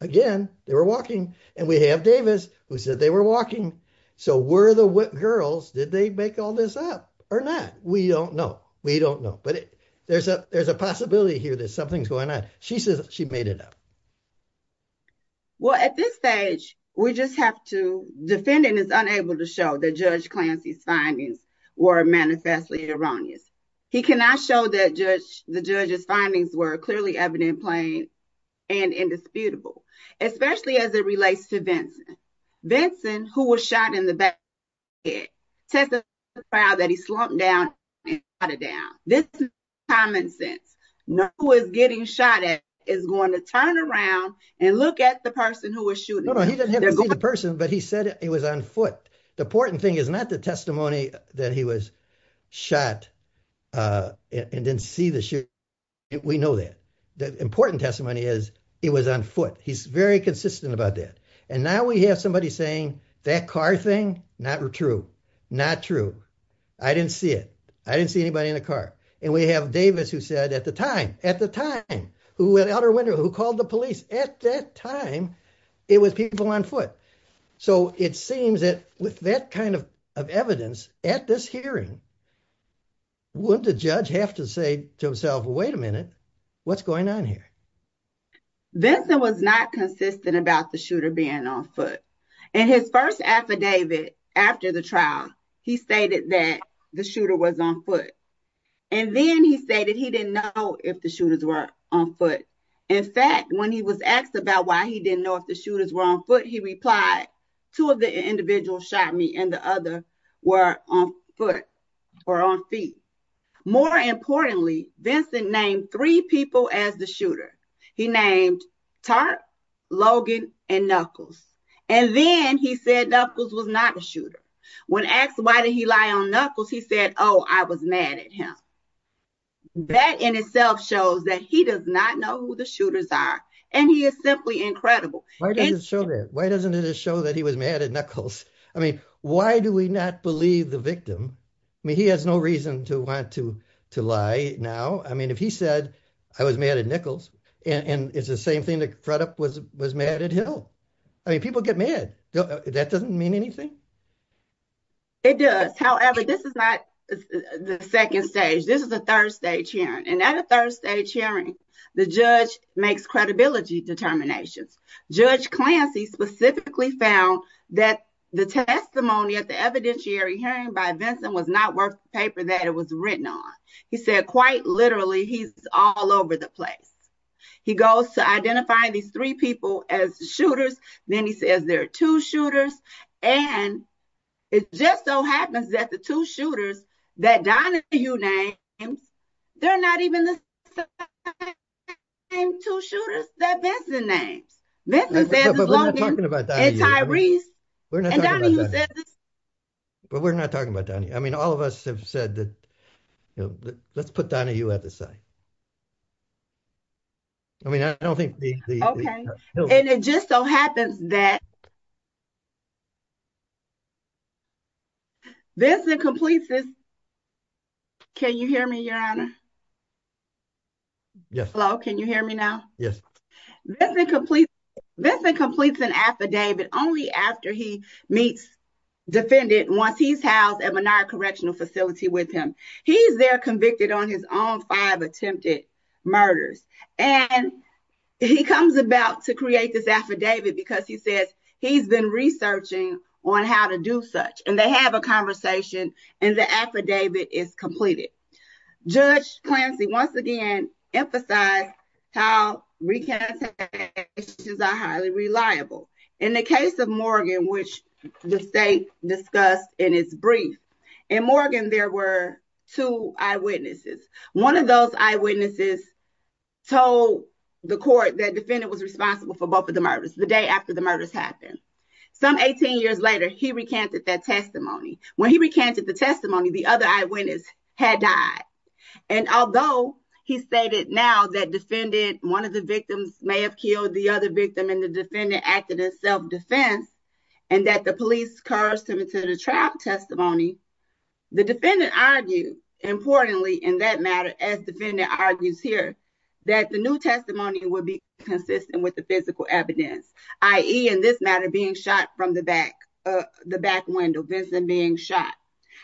Again, they were walking. And we have Davis, who said they were walking. So, were the girls, did they make all this up or not? We don't know. We don't know. But there's a possibility here that something's going on. She says she made it up. Well, at this stage, we just have to, defending is unable to show that Judge Clancy's findings were manifestly erroneous. He cannot show the judge's findings were clearly evident, plain, and indisputable, especially as it relates to Vincent. Vincent, who was shot in the back of the head, says he's proud that he slumped down and shot it down. This is common sense. No one who is getting shot at is going to turn around and look at the person who was shooting. No, no, he doesn't have to be the person, but he said he was on foot. The important thing is not the testimony that he was shot at and didn't see the shooting. We know that. The important testimony is it was on foot. He's very consistent about that. And now we have somebody saying that car thing, not true, not true. I didn't see it. I didn't see anybody in the car. And we have Davis who said at the time, at the time, who went out the window, who called the police, at that time, it was people on foot. So, it seems that with that kind of evidence at this hearing, would the judge have to say to himself, wait a minute, what's going on here? Vincent was not consistent about the shooter being on foot. In his first affidavit after the trial, he stated that the shooter was on foot. And then he stated he didn't know if the shooters were on foot. In fact, when he was asked about why he didn't know if the shooters were on foot, he replied, two of the individuals shot me and the other were on foot or on feet. More importantly, Vincent named three people as the shooter. He named Tuck, Logan, and Knuckles. And then he said Knuckles was not a shooter. When asked why did he lie on Knuckles, he said, oh, I was mad at him. That in itself shows that he does not know who the shooters are. And he is simply incredible. Why doesn't it show that he was mad at Knuckles? I mean, why do we not believe the victim? I mean, he has no reason to want to lie now. I mean, if he said I was mad at Knuckles, and it's the same thing that Fred up was mad at him. I mean, people get mad. That doesn't mean anything. It does. However, this is not the second stage. This is a third stage hearing. The judge makes credibility determinations. Judge Clancy specifically found that the testimony at the evidentiary hearing by Vincent was not worth the paper that it was written on. He said, quite literally, he's all over the place. He goes to identify these three people as shooters. Then he says there are two shooters. And it just so happens that the two shooters are the same two shooters that Vincent named. We're not talking about Donnie. I mean, all of us have said that. Let's put Donnie, you have a say. I mean, I don't think. And it just so happens that Vincent completes an affidavit only after he meets the defendant once he's housed at Menard Correctional Facility with him. He's there convicted on his own five attempted murders. And he comes about to create this affidavit because he said he's been researching on how to do such. And they have a conversation, and the affidavit is completed. Judge Clancy, once again, emphasized how recantations are highly reliable. In the case of Morgan, which the state discussed in its brief, in Morgan, there were two eyewitnesses. One of the eyewitnesses told the court that the defendant was responsible for both of the murders the day after the murders happened. Some 18 years later, he recanted that testimony. When he recanted the testimony, the other eyewitness had died. And although he stated now that defendant, one of the victims may have killed the other victim, and the defendant acted in self-defense, and that the police cursed him to the trial testimony, the defendant argued, importantly, in that matter, as the defendant argues here, that the new testimony would be consistent with the physical evidence, i.e., in this matter, being shot from the back window, Vincent being shot.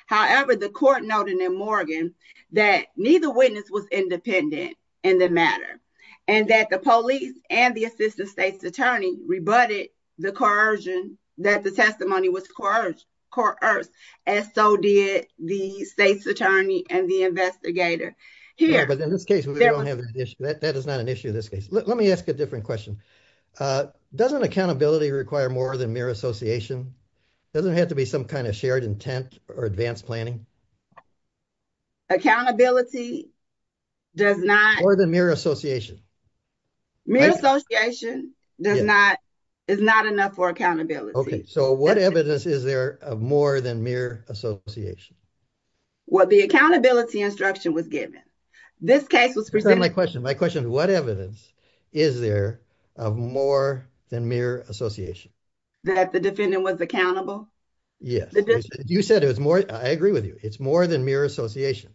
However, the court noted in Morgan that neither witness was independent in the matter, and that the police and the assistant state's attorney rebutted the coercion that the testimony was coerced, as so did the state's attorney and the investigator. Yeah, but in this case, that is not an issue in this case. Let me ask a different question. Doesn't accountability require more than mere association? Doesn't it have to be some kind of shared intent or advanced planning? Accountability does not... More than mere association. Mere association is not enough for accountability. Okay, so what evidence is there of more than mere association? What the accountability instruction was given. This case was presented... My question, my question, what evidence is there of more than mere association? That the defendant was accountable? Yes, you said it was more... I agree with you. It's more than mere association.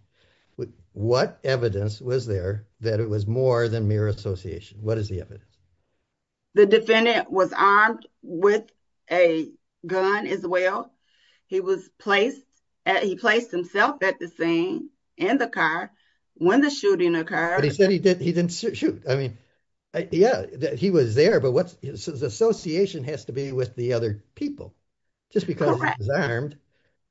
But what evidence was there that it was more than mere association? What is the evidence? The defendant was armed with a gun as well. He was placed... He placed himself at the scene in the car when the shooting occurred. But he said he didn't shoot. I mean, yeah, he was there, but what's... His association has to be with the other people. Just because he was armed,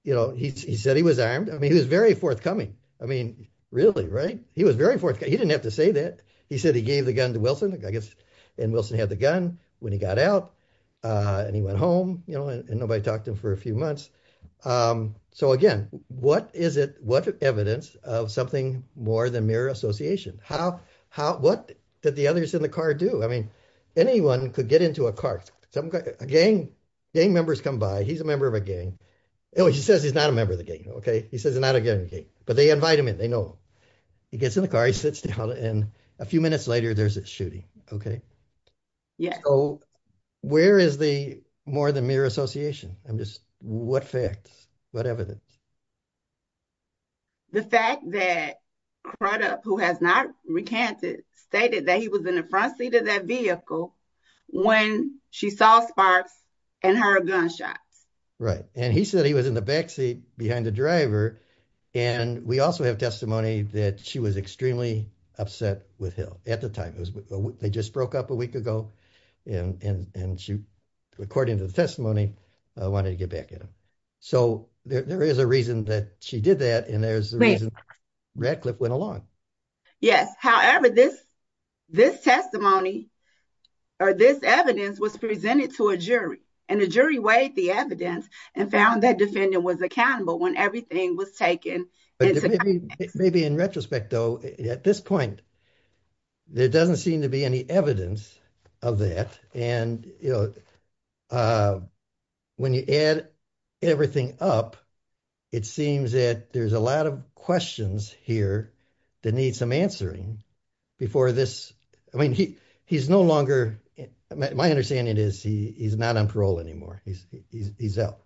you know, he said he was armed. I mean, he was very forthcoming. I mean, really, right? He was very forthcoming. He didn't have to say that. He said he gave the gun to Wilson, I guess, and Wilson had the gun when he got out. And he went home, you know, and nobody talked to him for a few months. So again, what is it? What evidence of something more than mere association? What did the others in the car do? I mean, anyone could get into a car. Gang members come by. He's a member of a gang. Anyway, he says he's not a member of the gang, okay? He says he's not a member of the gang, but they invite him in, they know. He gets in the car, he sits down, and a few minutes later, there's this shooting, okay? So where is the more than mere association? I'm just... What facts? What evidence? The fact that Crudup, who has not recanted, stated that he was in the front seat of that vehicle when she saw Sparks and heard a gunshot. Right, and he said he was in the back seat behind the driver, and we also have testimony that she was extremely upset with him at the time. They just broke up a week ago, and she, according to the testimony, wanted to get back at him. So there is a reason that she did that, and there's a reason Radcliffe went along. Yes, however, this testimony or this evidence was presented to a jury, and the jury weighed the evidence and found that defendant was accountable when everything was taken into account. Maybe in retrospect, though, at this point, there doesn't seem to be any evidence of that, and when you add everything up, it seems that there's a lot of questions here that need some before this... I mean, he's no longer... My understanding is he's not on parole anymore. He's out,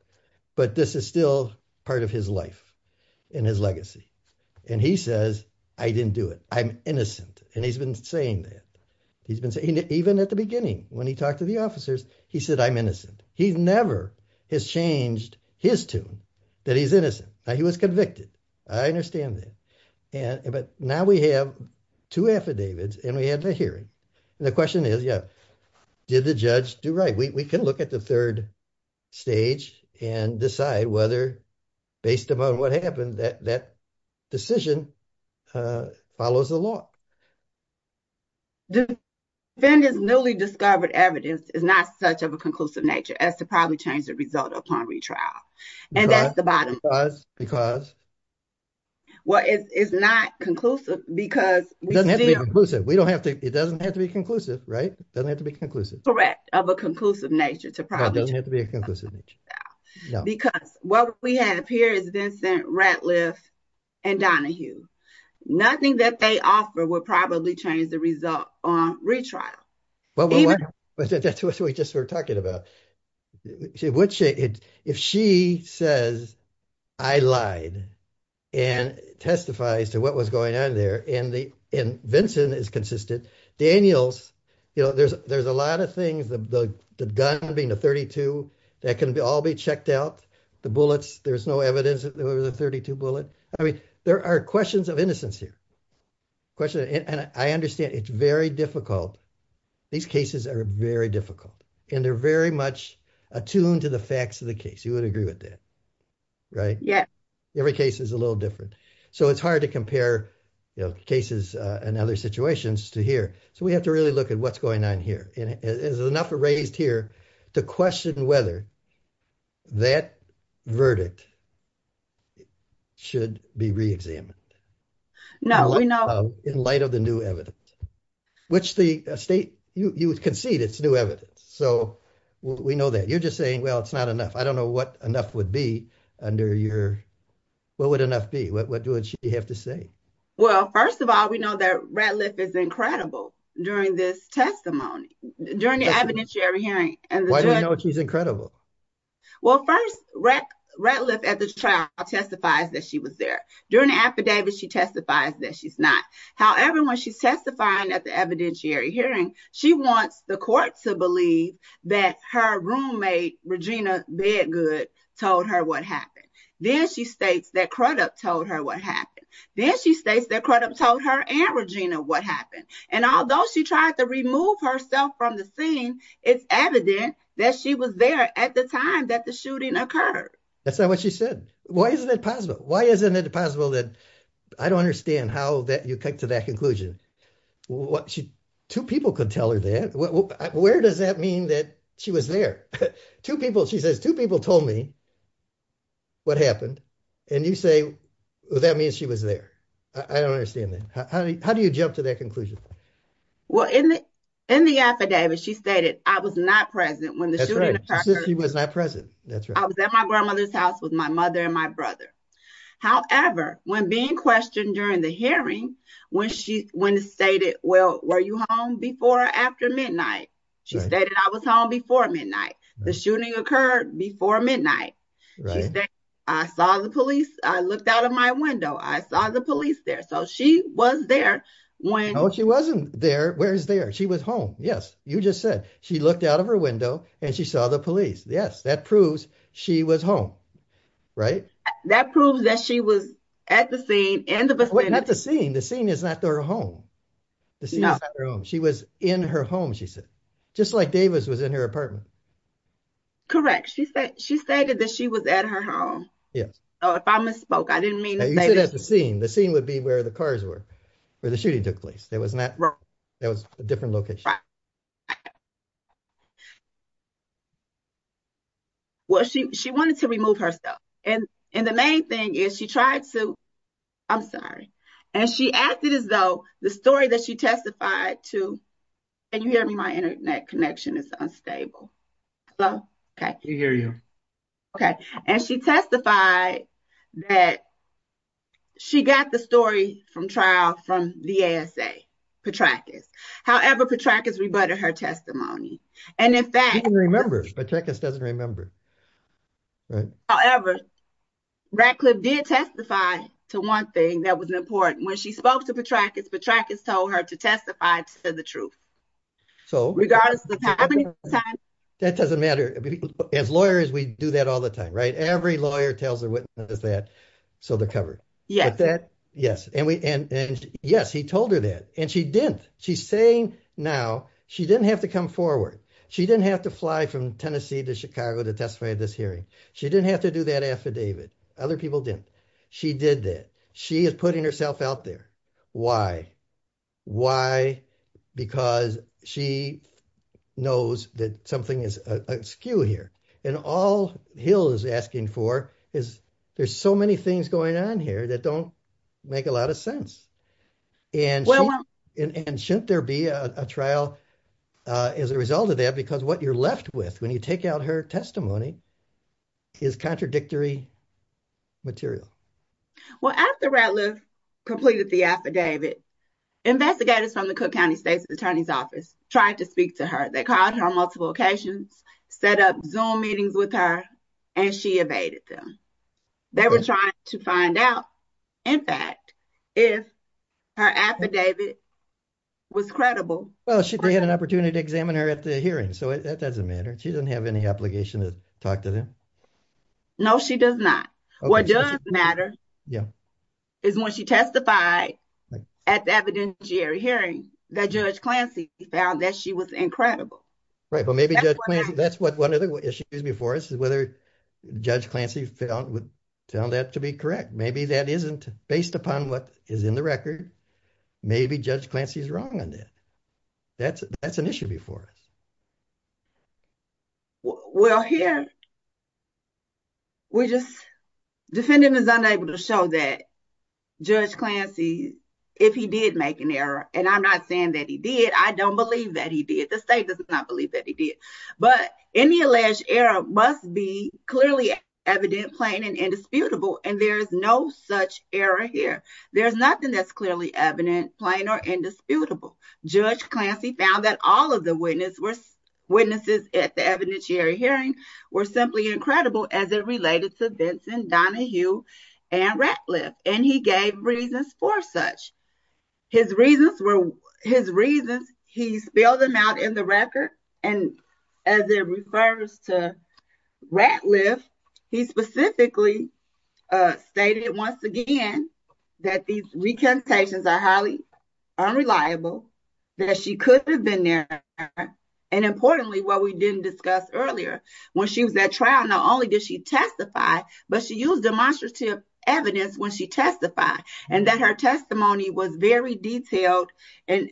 but this is still part of his life and his legacy, and he says, I didn't do it. I'm innocent, and he's been saying that. He's been saying it even at the beginning when he talked to the officers. He said, I'm innocent. He never has changed his tune that he's innocent. Now, he was convicted. I understand that, but now we have two affidavits, and we have a hearing, and the question is, yeah, did the judge do right? We can look at the third stage and decide whether, based upon what happened, that decision follows the law. The defendant's newly discovered evidence is not such of a conclusive nature. That's a result upon retrial, and that's the bottom line. Well, it's not conclusive because... It doesn't have to be conclusive, right? It doesn't have to be conclusive. Correct, of a conclusive nature. It doesn't have to be a conclusive nature. Because what we have here is Vincent Ratliff and Donahue. Nothing that they offer will probably change the result on retrial. That's what we just were talking about. Which, if she says, I lied, and testifies to what was going on there, and Vincent is consistent, Daniels, there's a lot of things, the gun being the 32, that can all be checked out, the bullets, there's no evidence that there was a 32 bullet. I mean, there are questions of innocence here. And I understand it's very difficult. These cases are very difficult, and they're very much attuned to the facts of the case. You would agree with that, right? Yeah. Every case is a little different. So it's hard to compare cases and other situations to here. So we have to really look at what's going on here. Is enough raised here to question whether that verdict should be reexamined? No, no. In light of the new evidence, which the state, you concede it's new evidence. So we know that. You're just saying, well, it's not enough. I don't know what enough would be under your, what would enough be? What do you have to say? Well, first of all, we know that Ratliff is incredible during this testimony, during the evidentiary hearing. Why do you know she's incredible? Well, first, Ratliff, as a child, testifies that she was there. During the affidavit, she testifies that she's not. However, when she's testifying at the evidentiary hearing, she wants the court to believe that her roommate, Regina Bedgood, told her what happened. Then she states that Crudup told her what happened. Then she states that Crudup told her and Regina what happened. And although she tried to remove herself from the scene, it's evident that she was there at the time that the shooting occurred. That's not what she said. Why isn't it possible? Why isn't it possible that, I don't understand how you come to that conclusion. Two people could tell her that. Where does that mean that she was there? Two people, she says, two people told me what happened. And you say, well, that means she was there. I don't understand that. How do you jump to that conclusion? Well, in the affidavit, she stated I was not present when the shooting occurred. I was at my grandmother's house with my mother and my brother. However, when being questioned during the hearing, when she stated, well, were you home before or after midnight? She stated I was home before midnight. The shooting occurred before midnight. She said, I saw the police. I looked out of my window. I saw the police there. So she was there. No, she wasn't there. Where is there? She was home. Yes. You just said she looked out of her window and she saw the police. Yes. That proves she was home, right? That proves that she was at the scene. Not the scene. The scene is not her home. She was in her home, she said. Just like Davis was in her apartment. Correct. She said that she was at her home. If I misspoke, I didn't mean to say that. The scene would be where the cars were, where the shooting took place. It was a different location. She wanted to remove herself. And the main thing is she tried to, I'm sorry. And she acted as though the story that she testified to, can you hear me? My internet connection is unstable. I can hear you. Okay. And she testified that she got the story from trial from the ASA, Petrakis. However, Petrakis rebutted her testimony. And in fact- She remembers. Petrakis doesn't remember. However, Radcliffe did testify to one thing that was important. When she spoke to Petrakis, Petrakis told her to testify to the truth. So- Regardless of how many times- That doesn't matter. As lawyers, we do that all the time, right? Every lawyer tells a witness that so they're covered. Yes. And yes, he told her that. And she didn't. She's saying now, she didn't have to come forward. She didn't have to fly from Tennessee to Chicago to testify at this hearing. She didn't have to do that affidavit. Other people didn't. She did that. She is putting herself out there. Why? Why? Because she knows that something is askew here. And all Hill is asking for is there's so many things going on here that don't make a lot of sense. And shouldn't there be a trial as a result of that? Because what you're left with when you take out her testimony is contradictory material. Well, after Radcliffe completed the affidavit, investigators from the Cook County State's Attorney's Office tried to speak to her. They called her on multiple occasions, set up Zoom meetings with her, and she evaded them. They were trying to find out, in fact, if her affidavit was credible. Well, she had an opportunity to examine her at the hearing. So that doesn't matter. She doesn't have any obligation to talk to them. No, she does not. What does matter is when she testified at the evidentiary hearing, that Judge Clancy found that she was incredible. Right, but maybe that's what one of the issues before us is whether Judge Clancy found that to be correct. Maybe that isn't based upon what is in the record. Maybe Judge Clancy is wrong on this. That's an issue before us. Well, here, we're just, defendant is unable to show that Judge Clancy, if he did make an error, and I'm not saying that he did. I don't believe that he did. The state does not believe that he did. But any alleged error must be clearly evident, plain, and indisputable, and there's no such error here. There's nothing that's clearly evident, plain, or indisputable. Judge Clancy found that all of the witnesses at the evidentiary hearing were simply incredible as it related to Donna Hugh and Ratliff, and he gave reasons for such. His reasons were, his reasons, he spelled them out in the record, and as it refers to Ratliff, he specifically stated once again that these recantations are highly unreliable, that she could have been there, and importantly, what we didn't discuss earlier, when she was at trial, not only did she testify, but she used demonstrative evidence when she testified, and that her testimony was very detailed and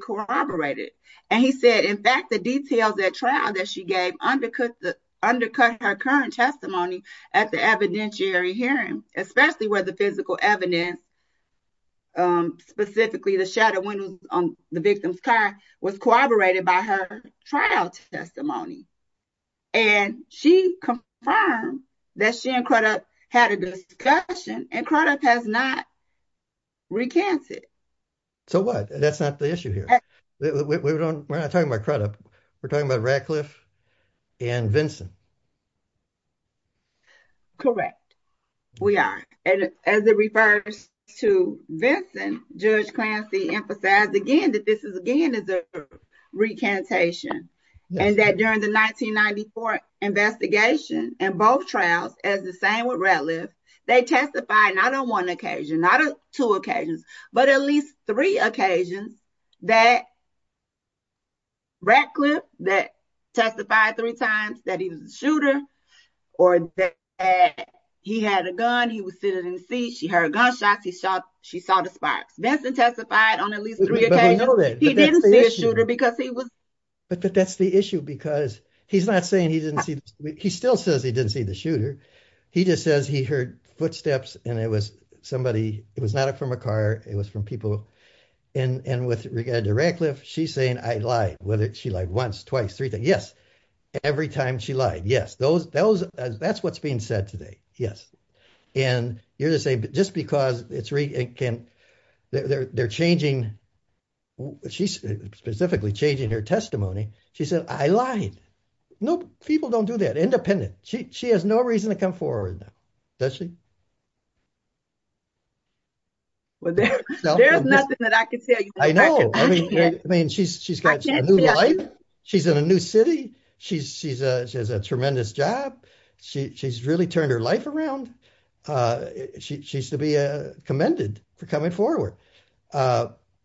corroborated. And he said, in fact, the details at trial that she gave undercut her current testimony at the evidentiary hearing, especially where the physical evidence, specifically the shadowing on the victim's car, was corroborated by her trial testimony. And she confirmed that she and Crudup had a discussion, and Crudup has not recanted. So what? That's not the issue here. We're not talking about Crudup. We're talking about Ratliff and Vinson. Correct. We are. And as it refers to Vinson, Judge Clancy emphasized again that this is, again, a recantation, and that during the 1994 investigation and both trials, as the same with Ratliff, they testified not on one occasion, not on two occasions, but at least three occasions that Ratliff, that testified three times that he was a shooter or that he had a gun, he was sitting in his seat, she heard a gunshot, she saw the sparks. Vinson testified on at least three occasions he didn't see a shooter because he was... But that's the issue because he's not saying he didn't see... He still says he didn't see the shooter. He just says he heard footsteps and it was somebody... It was not from a car. It was from people. And with regard to Ratliff, she's saying, I lied. She lied once, twice, three times. Yes. Every time she lied. Yes. That's what's being said today. Yes. And you're just saying, just because they're changing... She's specifically changing her testimony. She said, I lied. No, people don't do that, independent. She has no reason to come forward. Well, there's nothing that I can say. I know. I mean, she's got a new life. She's in a new city. She has a tremendous job. She's really turned her life around. She should be commended for coming forward.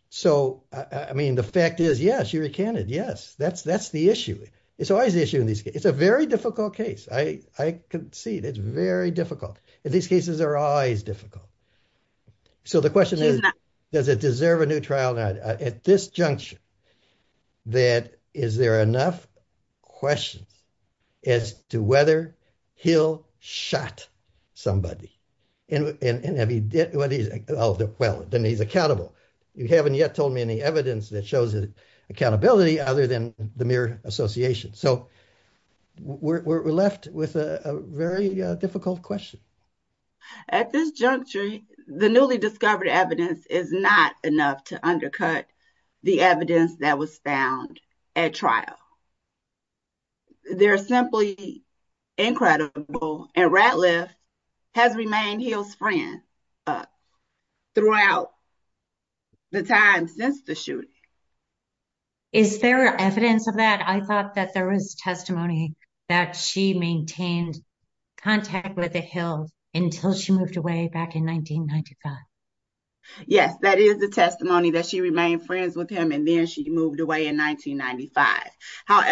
So, I mean, the fact is, yes, she recanted. Yes. That's the issue. It's always difficult. It's a very difficult case. I can see it. It's very difficult. In these cases, they're always difficult. So the question is, does it deserve a new trial? At this juncture, that is there enough question as to whether he'll shot somebody? And have he... Well, then he's accountable. You haven't yet told me any evidence that shows accountability other than the mere association. So we're left with a very difficult question. At this juncture, the newly discovered evidence is not enough to undercut the evidence that was found at trial. They're simply incredible. And Radcliffe has remained his friend throughout the time since the shooting. Is there evidence of that? I thought that there was testimony that she maintained contact with the Hill until she moved away back in 1995. Yes, that is the testimony that she remained friends with him, and then she moved away in 1995. Just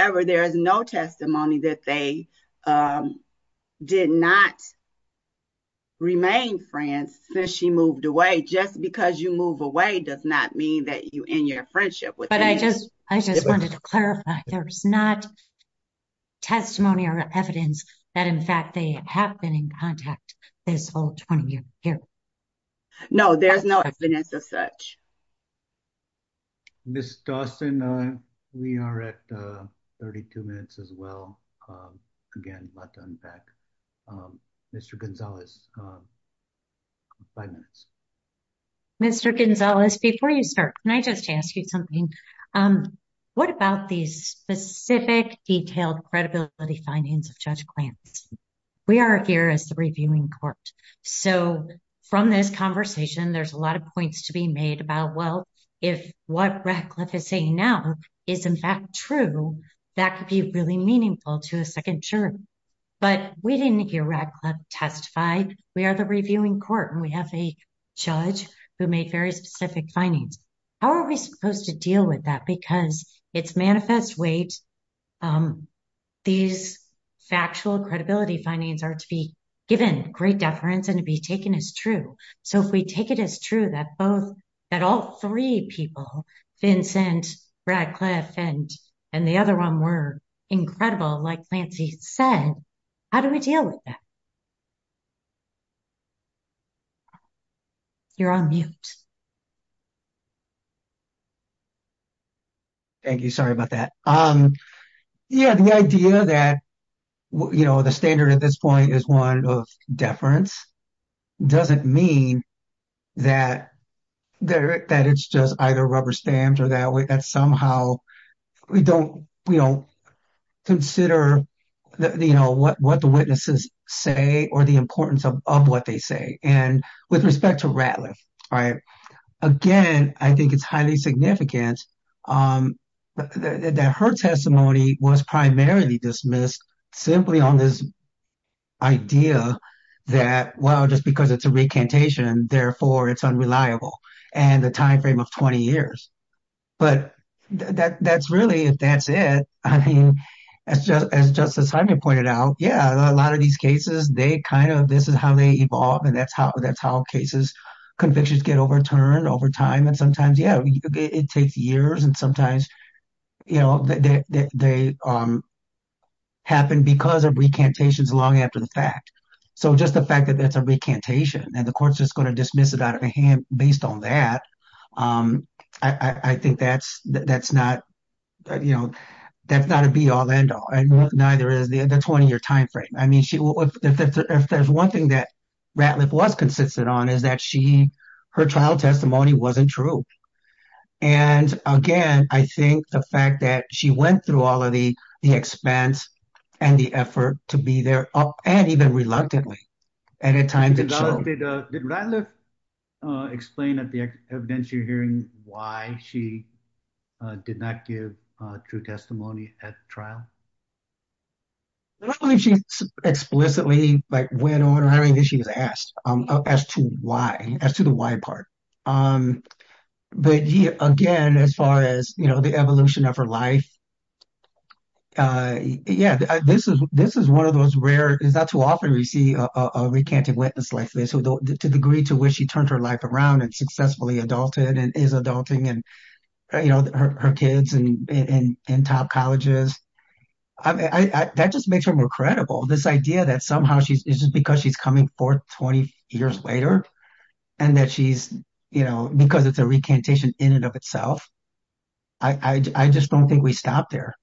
because you move away does not mean that you end your friendship with him. I just wanted to clarify, there's not testimony or evidence that, in fact, they have been in contact this whole time. No, there's no evidence as such. Ms. Dawson, we are at 32 minutes as well. Again, I'd like to unpack. Mr. Gonzalez, five minutes. Mr. Gonzalez, before you start, can I just ask you something? What about these specific, detailed credibility findings of Judge Clancy? We are here as the reviewing court. So from this conversation, there's a lot of points to be made about, well, if what Radcliffe is saying now is in fact true, that could be really meaningful to a second jury. But we didn't hear Radcliffe testified. We are the reviewing court, and we have a judge who made very specific findings. How are we supposed to deal with that? Because it's manifest weight. These factual credibility findings are to be given great deference and to be taken as true. So if we take it as true that all three people, Vincent, Radcliffe, and the other one were incredible, like Clancy said, how do we deal with that? You're on mute. Thank you. Sorry about that. Yeah, the idea that the standard at this point is one of deference doesn't mean that it's just either rubber stamped or that somehow we don't consider what the witnesses say or the importance of what they say. And with respect to Radcliffe, again, I think it's highly significant that her testimony was primarily dismissed simply on this idea that, well, just because it's a recantation, therefore it's unreliable, and the time frame of 20 years. But that's really, if that's it, I think, as Justice Hyman pointed out, yeah, a lot of these cases, they kind of, this is how they evolve, and that's how cases convictions get overturned over time. And sometimes, yeah, it takes years, and sometimes they happen because of recantations long after the fact. So just the fact that that's a recantation, and the court's just going to dismiss it out of the hand based on that, I think that's not a be-all, end-all. Neither is the 20-year time frame. I mean, there's one thing that Radcliffe was consistent on is that her trial testimony wasn't true. And again, I think the fact that she went through all of the expense and the effort to be there, and even reluctantly, at a time that she- Did Radcliffe explain at the event you're hearing why she did not give true testimony at the trial? No, I don't think she explicitly went over, I don't think she was asked as to why, as to the why part. But again, as far as the evolution of her life, yeah, this is one of those rare, it's not too often we see a recanted witness like this. So the degree to which she turned her life around and successfully adulted, and is adulting, and her kids in top colleges, that just makes her more credible. This idea that somehow it's just because she's coming forth 20 years later, and that she's- Because it's a recantation in and of itself. I just don't think we stopped there.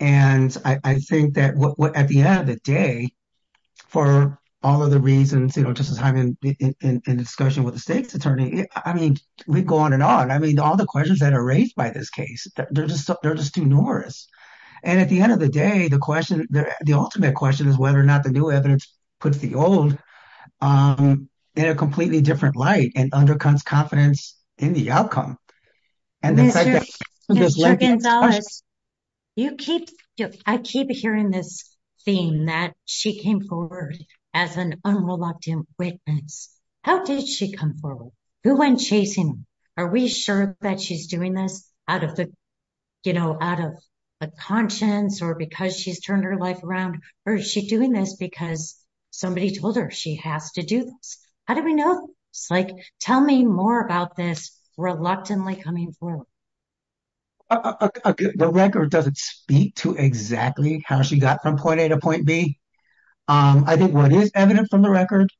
And I think that at the end of the day, for all of the reasons, just as I'm in discussion with the state's attorney, I mean, we go on and on. I mean, all the questions that are raised by this case, they're just too numerous. And at the end of the day, the ultimate question is whether or not the new evidence puts the old in a completely different light and undercuts confidence in the outcome. Mr. Gonzalez, I keep hearing this theme that she came forward as an unrelenting witness. How did she come forward? Who went chasing her? Are we sure that she's doing this out of the conscience or because she's turned her life around? Or is she doing this because somebody told her she has to do this? How do we know? Tell me more about this reluctantly coming forward. The record doesn't speak to exactly how she got from point A to point B. I think what is evident from the record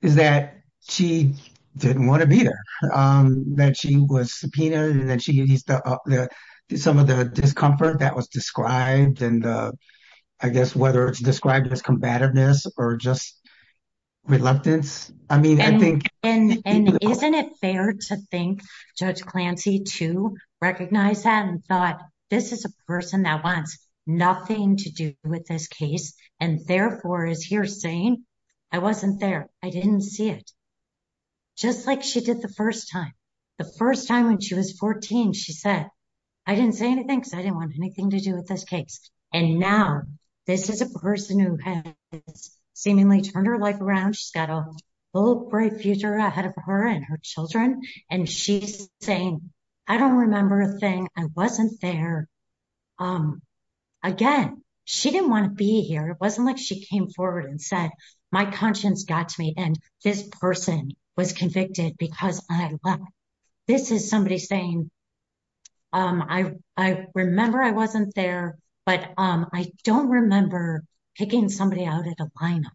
is that she didn't want to be there, that she was subpoenaed and that she used some of the discomfort that was described. And I guess whether it's described as combativeness or just reluctance. I mean, I think... And isn't it fair to think Judge Clancy too recognized that and thought, this is a person that wants nothing to do with this case and therefore is here saying, I wasn't there. I didn't see it. Just like she did the first time. The first time when she was 14, she said, I didn't say anything because I didn't want anything to do with this case. And now this is a person who has seemingly turned her life around. She's got a great future ahead of her and her children. And she's saying, I don't remember saying I wasn't there. Again, she didn't want to be here. It wasn't like she came forward and said, my conscience got to me and this person was convicted because I left. This is somebody saying, I remember I wasn't there, but I don't remember picking somebody out at the final.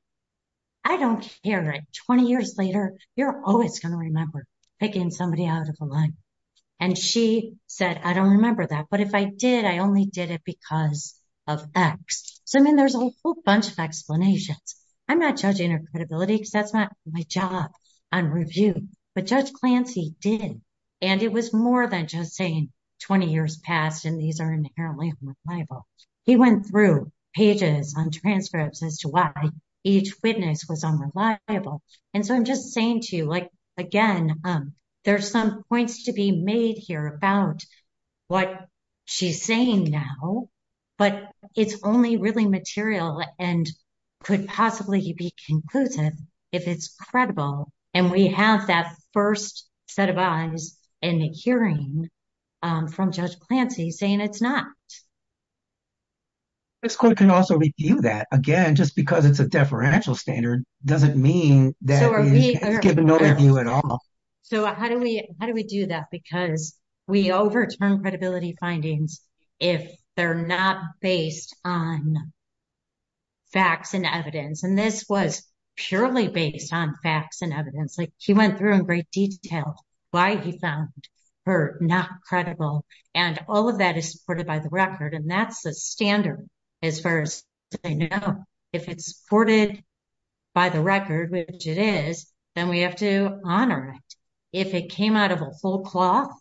I don't care that 20 years later, you're always going to remember picking somebody out of the line. And she said, I don't remember that, but if I did, I only did it because of facts. So then there's a whole bunch of explanations. I'm not judging her credibility because that's not my job on review, but Judge Clancy did. And it was more than just saying 20 years passed and these are inherently unreliable. He went through pages and transcripts as to why each witness was unreliable. And so I'm just saying to you, again, there's some points to be made here about what she's saying now, but it's only really material and could possibly be conclusive if it's credible. And we have that first set of eyes in the hearing from Judge Clancy saying it's not. This court can also review that. Again, just because it's a deferential standard doesn't mean that we give no review at all. So how do we do that? Because we overturn credibility findings if they're not based on facts and evidence. And this was purely based on facts and evidence. She went through in great detail why he found her not credible. And all of that is supported by the record. And that's the standard as far as they know. If it's supported by the record, which it is, then we have to honor it. If it came out of a full cloth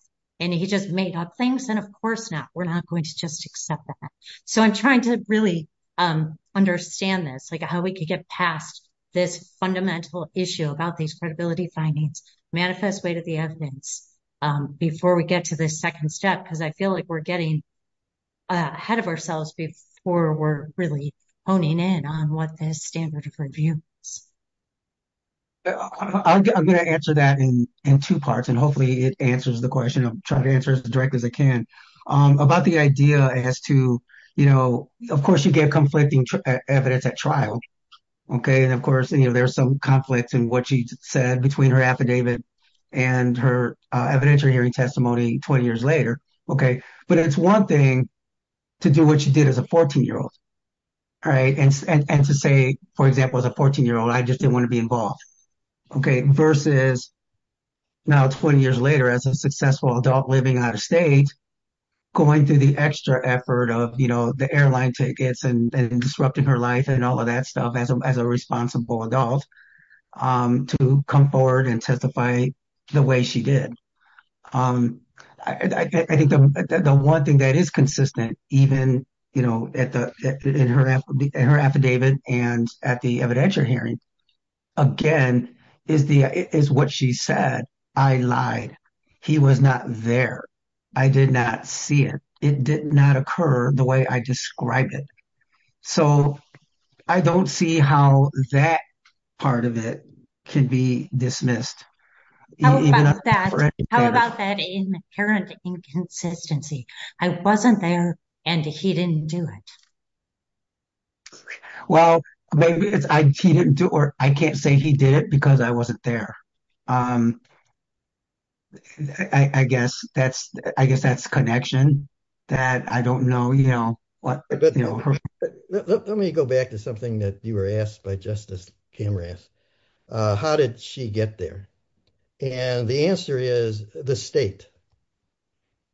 and he just made up things, then of course not. We're not going to just accept that. So I'm trying to really understand this, like how we could get past this fundamental issue about these credibility findings, manifest way to the evidence, before we get to the second step. Because I feel like we're getting ahead of ourselves before we're really honing in on what the standard of review. I'm going to answer that in two parts, and hopefully it answers the question. I'll try to answer as directly as I can about the idea as to, you know, of course you get conflicting evidence at trial. And of course there's some conflict in what she said between her affidavit and her evidence or hearing testimony 20 years later. But it's one thing to do what she did as a 14-year-old. And to say, for example, as a 14-year-old, I just didn't want to be involved. Versus now 20 years later as a successful adult living out of state, going through the extra effort of, you know, the airline tickets and disrupting her life and all of that stuff as a responsible adult, to come forward and testify the way she did. I think the one thing that is consistent, even, you know, in her affidavit and at the evidentiary hearing, again, is what she said. I lied. He was not there. I did not see it. It did not occur the way I described it. So I don't see how that part of it can be dismissed. How about that inherent inconsistency? I wasn't there and he didn't do it. Well, maybe he didn't do it or I can't say he did it because I wasn't there. I guess that's a connection that I don't know, you know. Let me go back to something that you were asked by Justice Cameron. How did she get there? And the answer is the state.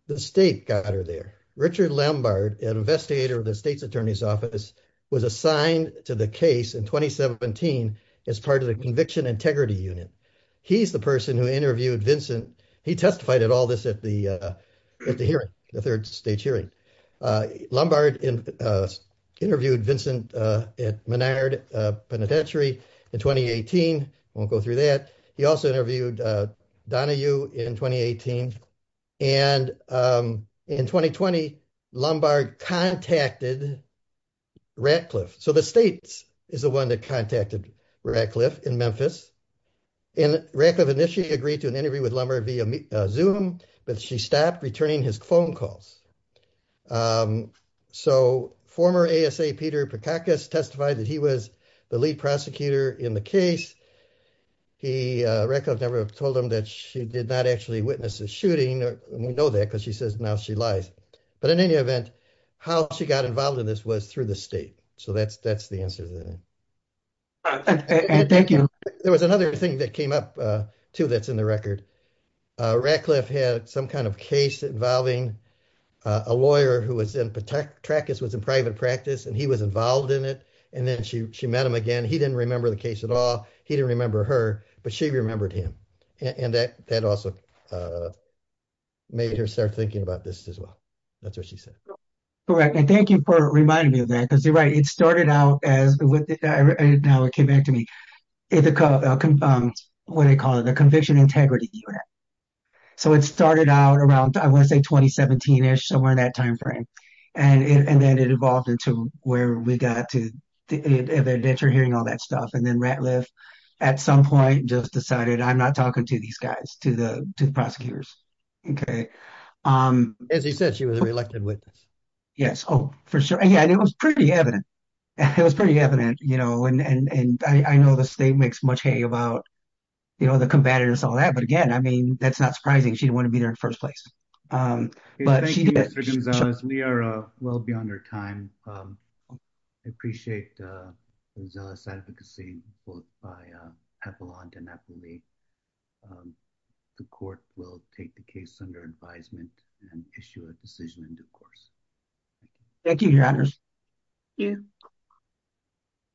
The state got her there. Richard Lombard, an investigator of the Attorney's Office, was assigned to the case in 2017 as part of the Conviction Integrity Unit. He's the person who interviewed Vincent. He testified at all this at the hearing, the third stage hearing. Lombard interviewed Vincent at Menard Penitentiary in 2018. I won't go through that. He also interviewed Donahue in 2018. And in 2020, Lombard contacted Ratcliffe. So the state is the one that contacted Ratcliffe in Memphis. And Ratcliffe initially agreed to an interview with Lombard via Zoom, but she stopped returning his phone calls. So, former ASA Peter Patakas testified that he was the lead prosecutor in the case. He, Ratcliffe's number, told him that she did not actually witness the shooting. We know that because she says now she lies. But in any event, how she got involved in this was through the state. So that's the answer to that. Thank you. There was another thing that came up too that's in the record. Ratcliffe had some kind of case involving a lawyer who was in, Patakas was in private practice and he was involved in it. And then she met him again. He didn't remember the case at all. He didn't remember her, but she remembered him. And that also made her start thinking about this as well. That's what she said. Correct. And thank you for reminding me of that because you're right. It came back to me. It's a, what do you call it? A conviction integrity. So it started out around, I want to say 2017-ish, somewhere in that timeframe. And then it evolved into where we got to, the denture hearing, all that stuff. And then Ratcliffe at some point just decided, I'm not talking to these guys, to the prosecutors. Okay. As you said, she was a reluctant witness. Yes. Oh, for sure. Yeah. And it was pretty evident. It was pretty evident. And I know the state makes much hay about the combatants and all that, but again, I mean, that's not surprising. She didn't want to be there in the first place. But she did. Thank you, Mr. Gonzalez. We are well beyond our time. I appreciate Gonzalez's advocacy, both by Epelante and Napoli. The court will take the case under advisement and issue a decision in due course. Thank you, Your Honors. Thank you.